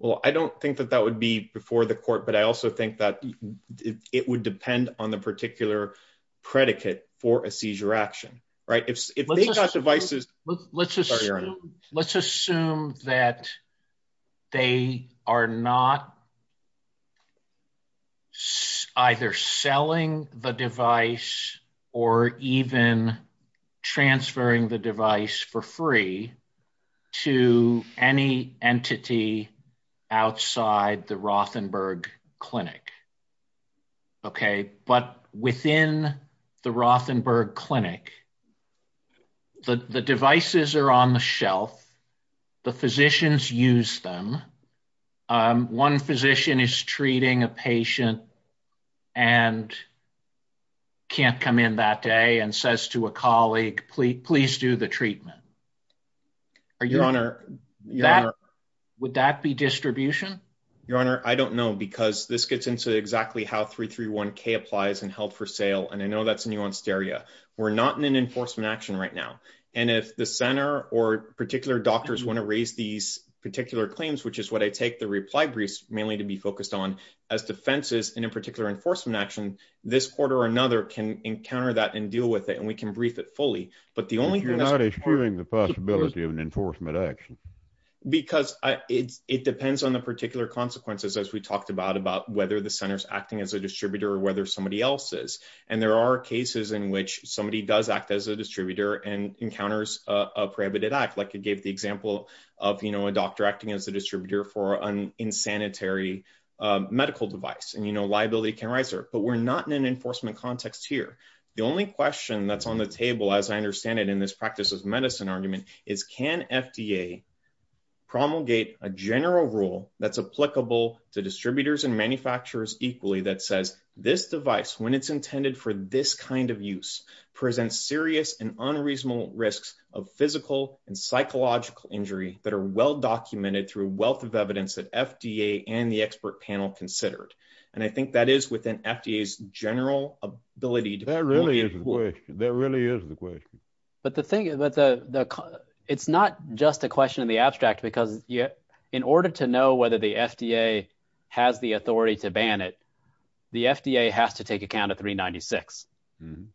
Well, I don't think that that would be before the court, but I also think that it would depend on the particular predicate for a seizure action, right? If they got devices... Let's assume that they are not either selling the device or even transferring the device for free to any entity outside the Rothenberg Clinic. Okay, but within the Rothenberg Clinic, the devices are on the shelf. The physicians use them. One physician is treating a patient and can't come in that day and says to a colleague, please do the treatment. Your Honor, would that be distribution? Your Honor, I don't know because this gets into exactly how 331K applies in health for sale. And I know that's a nuanced area. We're not in an enforcement action right now. And if the center or particular doctors want to raise these particular claims, which is what I take the reply briefs mainly to be focused on as defenses in a particular enforcement action, this court or another can encounter that and deal with it and we can brief it fully. But the only thing... You're not excluding the possibility of an enforcement action. Because it depends on the particular consequences as we talked about, about whether the center's acting as a distributor or whether somebody else is. And there are cases in which somebody does act as a distributor and encounters a prohibited act, like you gave the example of, you know, a doctor acting as a distributor for an unsanitary medical device. And, you know, liability can rise there. But we're not in an enforcement context here. The only question that's on the table, as I understand it, in this practice of medicine argument is can FDA promulgate a general rule that's applicable to distributors and manufacturers equally that says this device, when it's intended for this kind of use, presents serious and unreasonable risks of physical and psychological injury that are well-documented through a wealth of evidence that FDA and the expert panel considered. And I think that is within FDA's general ability... That really is the question. But the thing is that it's not just a question of the abstract, because in order to know whether the FDA has the authority to ban it, the FDA has to take account of 396.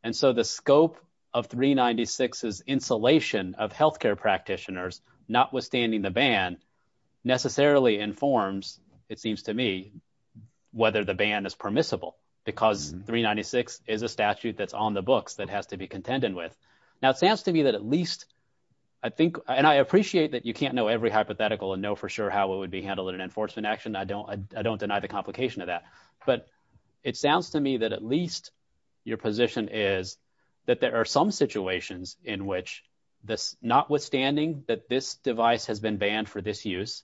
And so the scope of 396's insulation of healthcare practitioners, notwithstanding the ban, necessarily informs, it seems to me, whether the ban is permissible, because 396 is a statute that's on the books that has to be contended with. Now, it sounds to me that at least, I think, and I appreciate that you can't know every hypothetical and know for sure how it would be handled in an enforcement action. I don't deny the complication of that. But it sounds to me that at least your position is that there are some situations in which, notwithstanding that this device has been banned for disuse,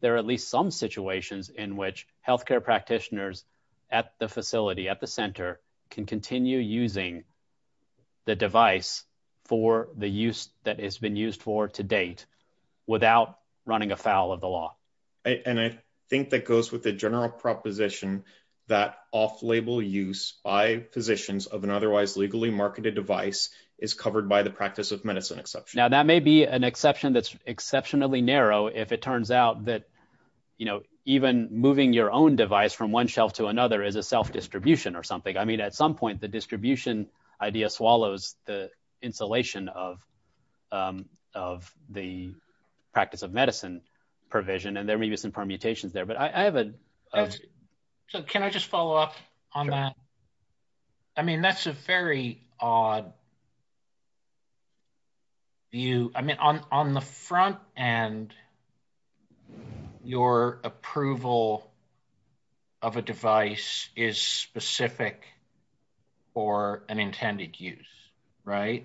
there are at least some situations in which healthcare practitioners at the facility, at the center, can continue using the device for the use that it's been used for to date without running afoul of the law. And I think that goes with the general proposition that off-label use by physicians of an otherwise legally marketed device is covered by the practice of medicine exception. Now, that may be an exception that's exceptionally narrow if it turns out that, you know, even moving your own device from one shelf to another is a self-distribution or something. I mean, at some point, the distribution idea swallows the insulation of the practice of medicine provision, and there may be some permutations there. So can I just follow up on that? I mean, that's a very odd view. I mean, on the front end, your approval of a device is specific for an intended use, right?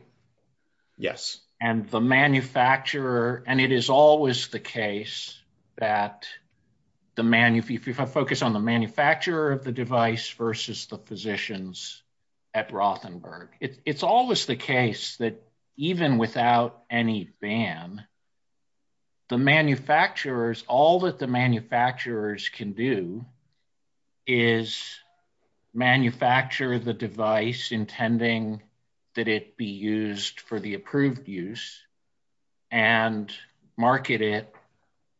Yes. And the manufacturer, and it is always the case that if you focus on the manufacturer of the device versus the physicians at Rothenberg, it's always the case that even without any ban, the manufacturers, all that the manufacturers can do is manufacture the device intending that it be used for the approved use and market it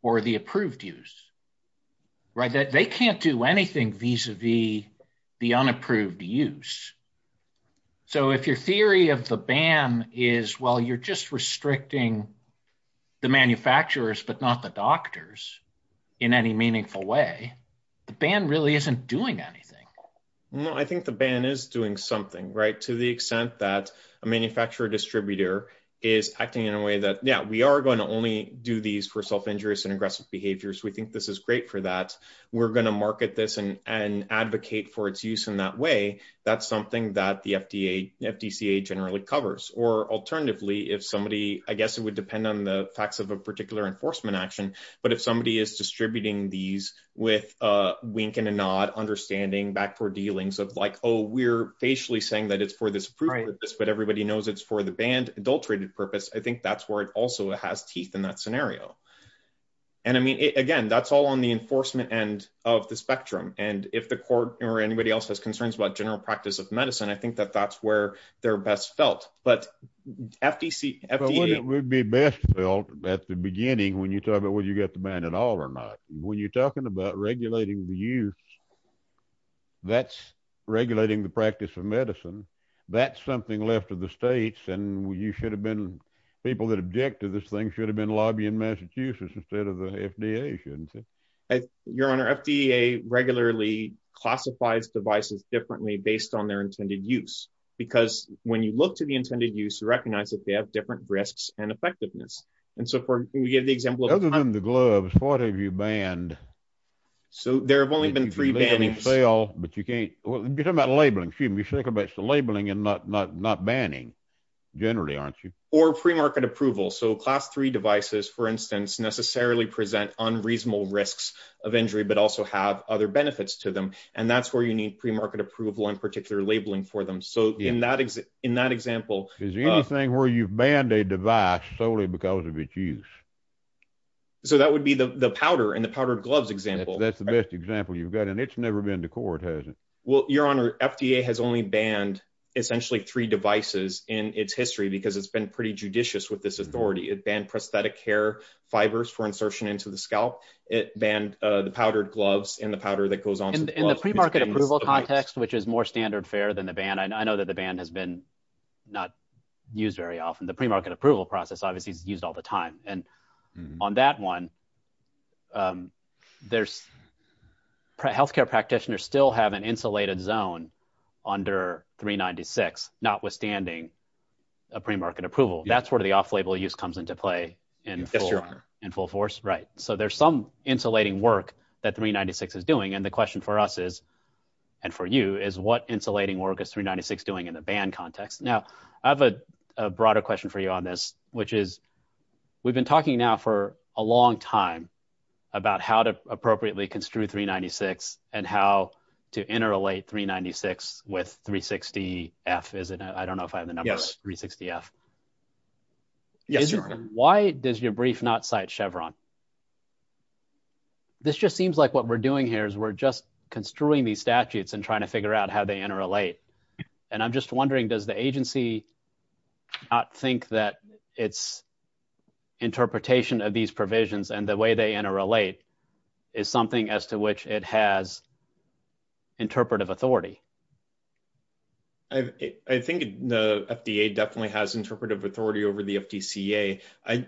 for the approved use, right? They can't do anything vis-a-vis the unapproved use. So if your theory of the ban is, well, you're just restricting the manufacturers, but not the doctors in any meaningful way, the ban really isn't doing anything. No, I think the ban is doing something, right? To the extent that a manufacturer distributor is, yeah, we are going to only do these for self-injurious and aggressive behaviors. We think this is great for that. We're going to market this and advocate for its use in that way. That's something that the FDCA generally covers. Or alternatively, if somebody, I guess it would depend on the facts of a particular enforcement action, but if somebody is distributing these with a wink and a nod, understanding back for dealings of like, oh, we're facially saying that it's for this purpose, but everybody knows it's for the ban, adulterated purpose. I think that's where it also has teeth in that scenario. And I mean, again, that's all on the enforcement end of the spectrum. And if the court or anybody else has concerns about general practice of medicine, I think that that's where they're best felt. But FDC, FDCA... It would be best felt at the beginning when you talk about whether you got the ban at all or not. When you're talking about regulating the use, that's regulating the practice of medicine. That's something left to the states. And you should have been... People that object to this thing should have been lobbying Massachusetts instead of the FDA. Your Honor, FDA regularly classifies devices differently based on their intended use, because when you look to the intended use, you recognize that they have different risks and effectiveness. And so for you to give the example... Other than the gloves, what have you banned? So there have only been three bannings. You can label and sell, but you can't... You're talking about labeling. Excuse me. You're talking about labeling and not banning. Generally, aren't you? Or pre-market approval. So class three devices, for instance, necessarily present unreasonable risks of injury, but also have other benefits to them. And that's where you need pre-market approval and particular labeling for them. So in that example... Is the only thing where you've banned a device solely because of its use? So that would be the powder and the powder gloves example. That's the best example you've got. And it's never been to court, has it? Well, Your Honor, FDA has only banned essentially three devices in its history because it's been pretty judicious with this authority. It banned prosthetic hair fibers for insertion into the scalp. It banned the powdered gloves and the powder that goes on... In the pre-market approval context, which is more standard fare than the ban, I know that the ban has been not used very often. The pre-market approval process obviously is used all the time. And on that one, healthcare practitioners still have an insulated zone under 396, notwithstanding a pre-market approval. That's where the off-label use comes into play in full force. Right. So there's some insulating work that 396 is doing. And the question for us is, and for you, is what insulating work is 396 doing in the ban context? Now, I have a broader question for you on this, which is we've been talking now for a long time about how to appropriately construe 396 and how to interrelate 396 with 360F, is it? I don't know if I have the number. Yes. 360F. Why does your brief not cite Chevron? This just seems like what we're doing here is we're just construing these statutes and trying to figure out how they interrelate. And I'm just wondering, does the agency not think that its interpretation of these provisions and the way they interrelate is something as to which it has interpretive authority? I think the FDA definitely has interpretive authority over the FDCA. I,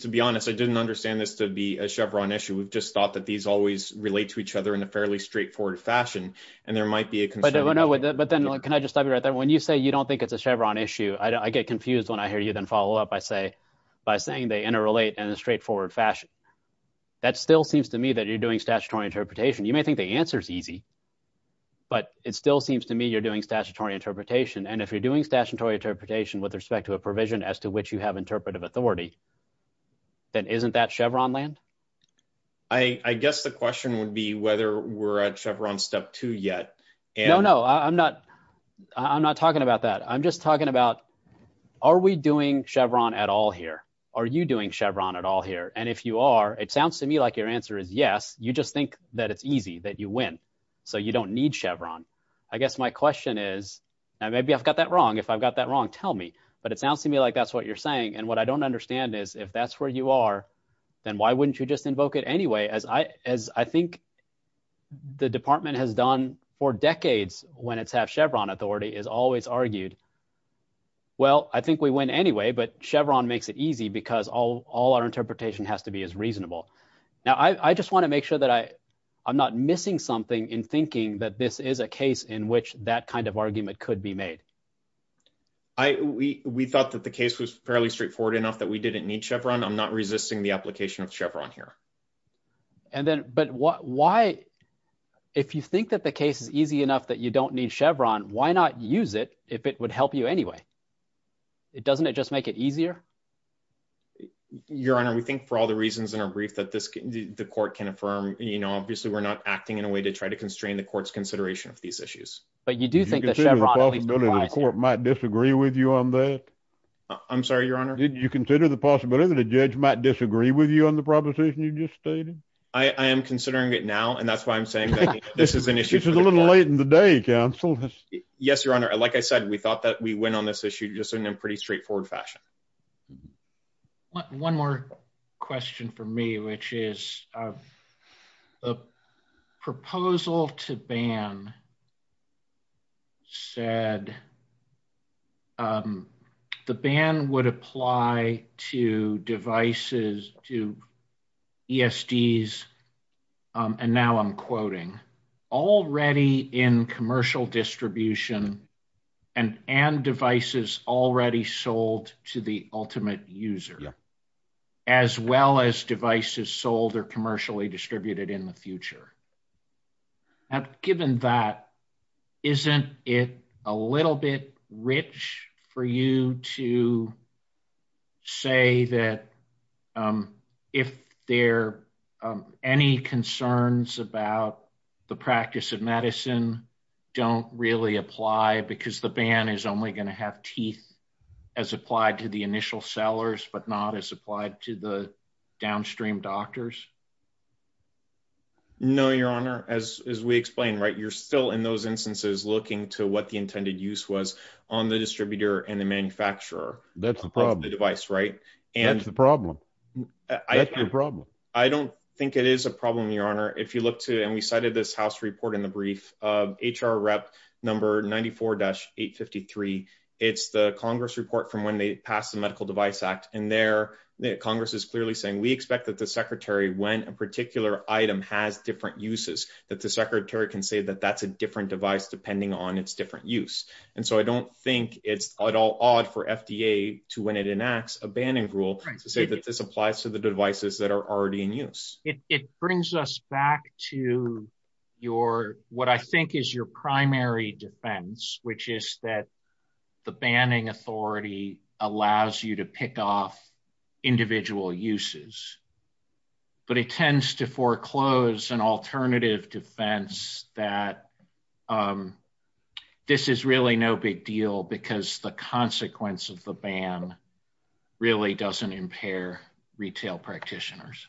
to be honest, I didn't understand this to be a Chevron issue. We've just thought that these always relate to each other in a fairly straightforward fashion. And there might be a- But no, but then, can I just stop you right there? When you say you don't think it's a Chevron issue, I get confused when I hear you then follow up. I say, by saying they interrelate in a straightforward fashion. That still seems to me that you're doing statutory interpretation. You may think the answer's easy, but it still seems to me you're doing statutory interpretation. And if you're doing statutory interpretation with respect to a provision as to which you have interpretive authority, then isn't that Chevron land? I guess the question would be whether we're at Chevron step two yet. No, no, I'm not talking about that. I'm just talking about, are we doing Chevron at all here? Are you doing Chevron at all here? And if you are, it sounds to me like your answer is yes. You just think that it's easy, that you win. So you don't need Chevron. I guess my question is, and maybe I've got that wrong. If I've got that wrong, tell me. But it sounds to me like that's what you're saying. And what I don't understand is if that's where you are, then why wouldn't you just invoke it anyway? As I as I think the department has done for decades when it's have Chevron authority is always argued. Well, I think we went anyway, but Chevron makes it easy because all our interpretation has to be as reasonable. Now, I just want to make sure that I I'm not missing something in thinking that this is a case in which that kind of argument could be made. I we we thought that the case was fairly straightforward enough that we didn't need Chevron. I'm not resisting the application of Chevron here. And then but why? If you think that the case is easy enough that you don't need Chevron, why not use it if it would help you anyway? It doesn't it just make it easier? Your Honor, we think for all the reasons in our brief that this the court can affirm, you know, obviously we're not acting in a way to try to constrain the court's consideration of these issues. But you do think that Chevron court might disagree with you on that. I'm sorry, Your Honor. Did you consider the possibility that a judge might disagree with you on the proposition you just stated? I am considering it now, and that's why I'm saying this is an issue. It's a little late in the day, counsel. Yes, Your Honor. Like I said, we thought that we went on this issue just in a pretty straightforward fashion. One more question for me, which is a proposal to ban said the ban would apply to devices, to ESDs, and now I'm quoting, already in commercial distribution and devices already sold to the ultimate user, as well as devices sold or commercially distributed in the future. Now, given that, isn't it a little bit rich for you to say that if there are any concerns about the practice of medicine don't really apply because the ban is only going to have teeth as applied to the initial sellers, but not as applied to the downstream doctors? No, Your Honor. As we explained, right, you're still in those instances looking to what the intended use was on the distributor and the manufacturer. That's the problem. The device, right? That's the problem. That's the problem. I don't think it is a problem, Your Honor. If you look to it, and we cited this house report in the brief of HR rep number 94-853. It's the Congress report from when they passed the Medical Device Act, and there Congress is clearly saying, we expect that the secretary, when a particular item has different uses, that the secretary can say that that's a different device depending on its different use. And so I don't think it's at all odd for FDA to, when it enacts a banning rule, to say that this applies to the devices that are already in use. It brings us back to your, what I think is your primary defense, which is that the banning authority allows you to pick off individual uses, but it tends to foreclose an alternative defense that this is really no big deal because the consequence of the ban really doesn't impair retail practitioners.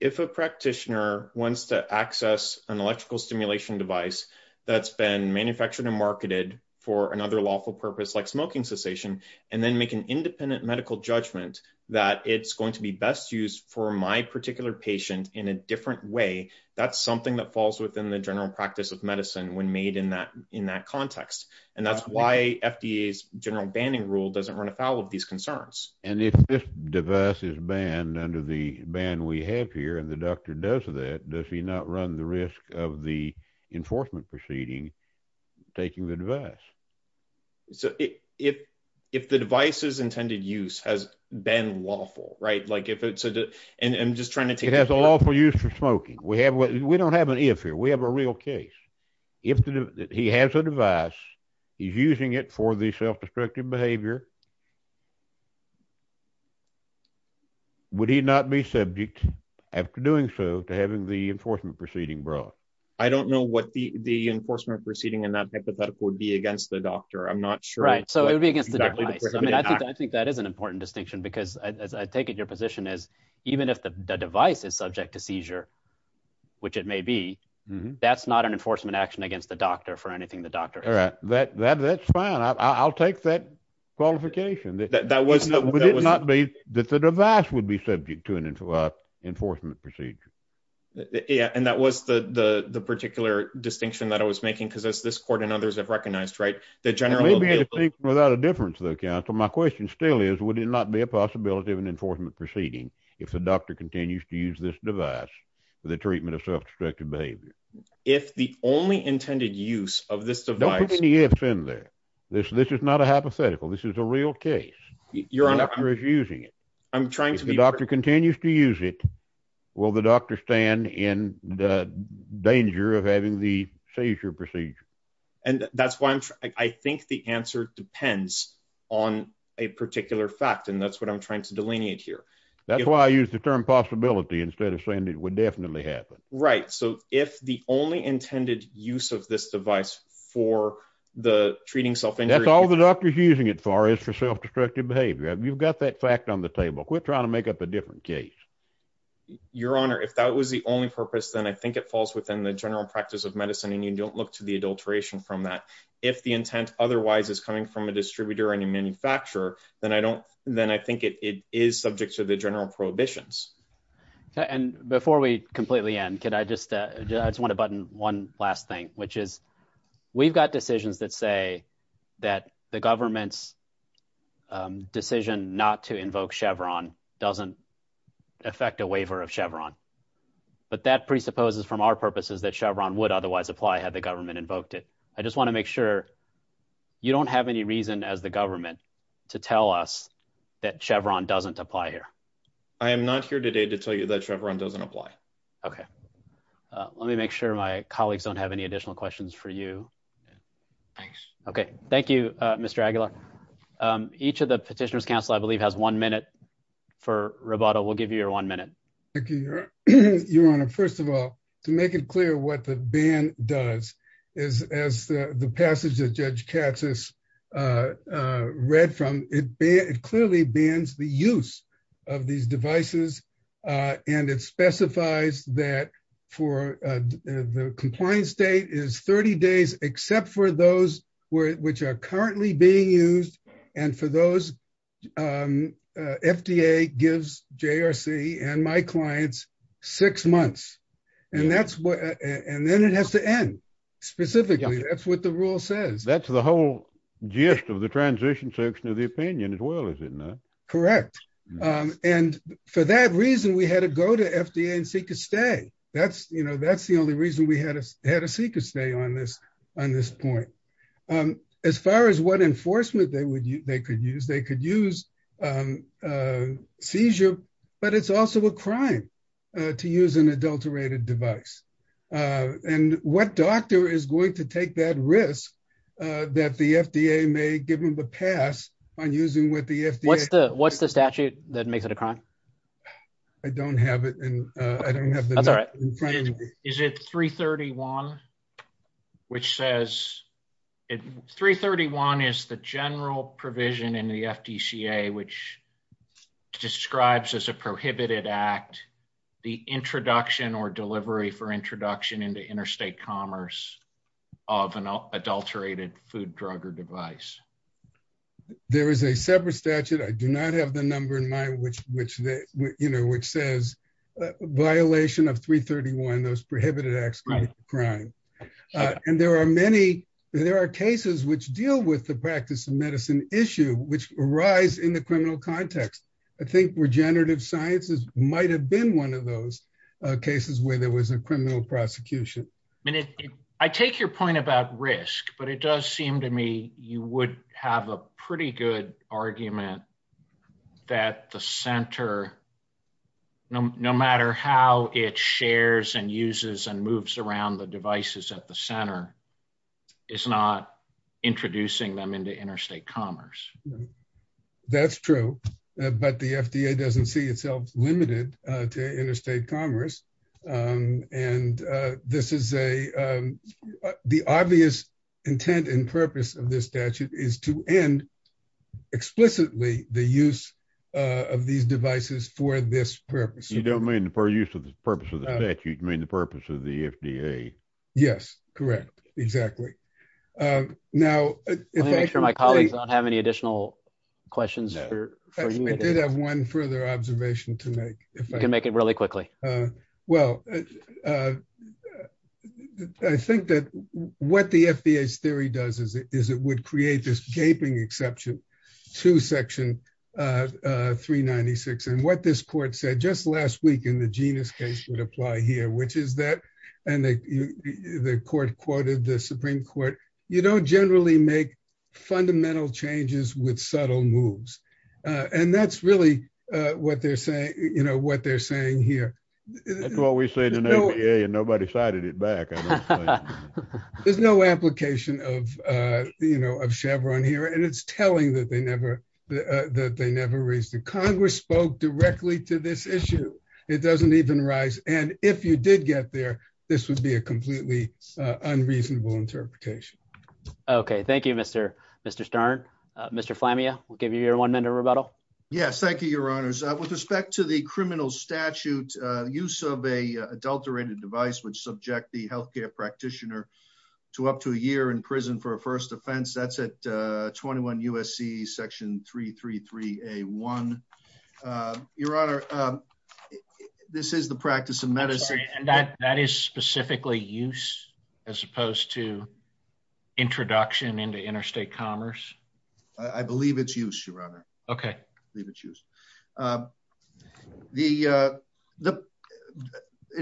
If a practitioner wants to access an electrical stimulation device that's been manufactured and marketed for another lawful purpose like smoking cessation, and then make an independent medical judgment that it's going to be best used for my particular patient in a different way, that's something that falls within the general practice of medicine when made in that context. And that's why FDA's general banning rule doesn't run afoul of these concerns. And if this device is banned under the ban we have here, and the doctor does that, does he not run the risk of the enforcement proceeding taking the device? So if the device's intended use has been lawful, right? And I'm just trying to take... It has a lawful use for smoking. We don't have an if here, we have a real case. If he has a device, he's using it for the self-destructive behavior, would he not be subject after doing so to having the enforcement proceeding brought? I don't know what the enforcement proceeding and that hypothetical would be against the doctor. I'm not sure. Right, so it would be against the doctor. I think that is an important distinction because I take it your position is even if the device is subject to seizure, which it may be, that's not an enforcement action against the doctor for anything the doctor... All right, that's fine. I'll take that qualification. That the device would be subject to an enforcement procedure. Yeah, and that was the particular distinction that I was making because as this court and others have recognized, right, the general... It may be a distinction without a difference though, counsel. My question still is, would it not be a possibility of an enforcement proceeding if the doctor continues to use this device for the treatment of self-destructive behavior? If the only intended use of this device... Don't put any ifs in there. This is not a hypothetical. This is a real case. Your Honor... The doctor is using it. I'm trying to be... If the doctor continues to use it, will the doctor stand in the danger of having the seizure procedure? And that's why I'm... I think the answer depends on a particular fact, and that's what I'm trying to delineate here. That's why I used the term possibility instead of saying it would definitely happen. Right, so if the only intended use of this device for the treating self-injury... That's all the doctor's using it for is for self-destructive behavior. You've got that fact on the table. Quit trying to make up a different case. Your Honor, if that was the only purpose, then I think it falls within the general practice of medicine, and you don't look to the adulteration from that. If the intent otherwise is coming from a distributor and a manufacturer, then I think it is subject to the general prohibitions. And before we completely end, can I just... I just want to button one last thing, which is we've got decisions that say that the government's decision not to invoke Chevron doesn't affect a waiver of Chevron, but that presupposes from our purposes that Chevron would otherwise apply had the government invoked it. I just want to make sure you don't have any reason as the government to tell us that Chevron doesn't apply here. I am not here today to tell you that Chevron doesn't apply. Okay, let me make sure my colleagues don't have any additional questions for you. Thanks. Okay, thank you, Mr. Aguilar. Each of the Petitioner's Council, I believe, has one minute for Roboto. We'll give you your one minute. Thank you, Your Honor. First of all, to make it clear what the ban does is, as the passage that Judge Chatzis read from, it clearly bans the use of these devices. And it specifies that for the compliance date is 30 days except for those which are currently being used. And for those, FDA gives JRC and my clients six months. And then it has to end, specifically. That's what the rule says. That's the whole gist of the transition section of the opinion as well, isn't it? Correct. And for that reason, we had to go to FDA and seek a stay. That's the only reason we had to seek a stay on this point. As far as what enforcement they could use, they could use seizure, but it's also a crime to use an adulterated device. And what doctor is going to take that risk that the FDA may give him the pass on using what the FDA... What's the statute that makes it a crime? I don't have it. Is it 331, which says... which describes as a prohibited act the introduction or delivery for introduction into interstate commerce of an adulterated food, drug, or device? There is a separate statute. I do not have the number in mind, which says violation of 331, those prohibited acts of crime. And there are cases which deal with the practice of medicine issue, which arise in the criminal context. I think regenerative sciences might have been one of those cases where there was a criminal prosecution. And I take your point about risk, but it does seem to me you would have a pretty good argument that the center, no matter how it shares and uses and moves around the devices at the center, is not introducing them into interstate commerce. That's true, but the FDA doesn't see itself limited to interstate commerce. And this is a... the obvious intent and purpose of this statute is to end explicitly the use of these devices for this purpose. You don't mean for use of the purpose of the statute, you mean the purpose of the FDA. Yes, correct. Exactly. Now... I'm sure my colleagues don't have any additional questions for you. I did have one further observation to make. You can make it really quickly. Well, I think that what the FDA's theory does is it would create this gaping exception to section 396. And what this court said just last week in the genius case would apply here, which is that, and the court quoted the Supreme Court, you don't generally make fundamental changes with subtle moves. And that's really what they're saying here. That's what we said in the area and nobody cited it back. There's no application of Chevron here. And it's telling that they never raised it. Congress spoke directly to this issue. It doesn't even rise. And if you did get there, this would be a completely unreasonable interpretation. Okay. Thank you, Mr. Stern. Mr. Flamia, we'll give you your one minute rebuttal. Yes. Thank you, your honors. With respect to the criminal statute, use of a adulterated device would subject the healthcare practitioner to up to a year in prison for a first offense. That's at 21 USC section 333A1. Your honor, this is the practice of medicine. That is specifically used as opposed to introduction into interstate commerce? I believe it's used, your honor. Okay. It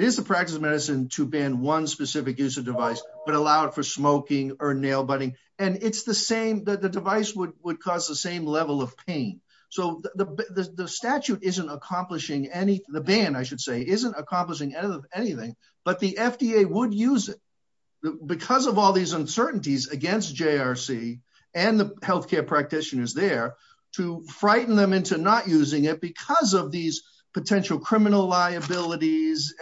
is the practice of medicine to ban one specific use of device, but allow it for smoking or nail butting. And it's the same, the device would cause the same level of pain. So the statute isn't accomplishing any, the ban, I should say, isn't accomplishing anything, but the FDA would use it because of all these uncertainties against JRC and the healthcare practitioners there to frighten them into not using it because of these potential criminal liabilities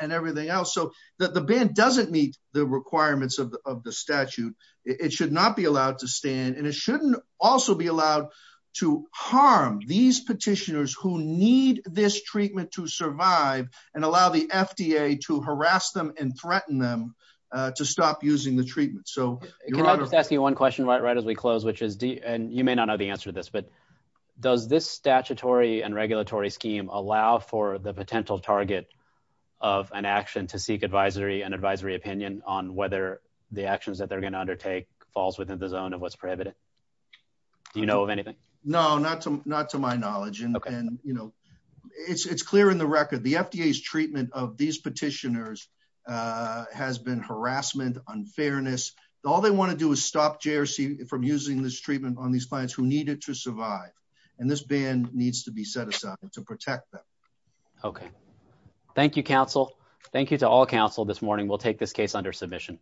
and everything else. So that the ban doesn't meet the requirements of the statute. It should not be allowed to stand and it shouldn't also be allowed to harm these petitioners who need this treatment to survive and allow the FDA to harass them and threaten them to stop using the treatment. So your honor- Can I just ask you one question right as we close, which is, and you may not know the answer to this, but does this statutory and regulatory scheme allow for the potential target of an action to seek advisory and advisory opinion on whether the actions that they're going to undertake falls within the zone of what's prohibited? Do you know of anything? No, not to my knowledge. And you know, it's clear in the record, the FDA's treatment of these petitioners has been harassment, unfairness. All they want to do is stop JRC from using this treatment on these clients who need it to survive. And this ban needs to be set aside to protect them. Okay. Thank you, counsel. Thank you to all counsel this morning. We'll take this case under submission.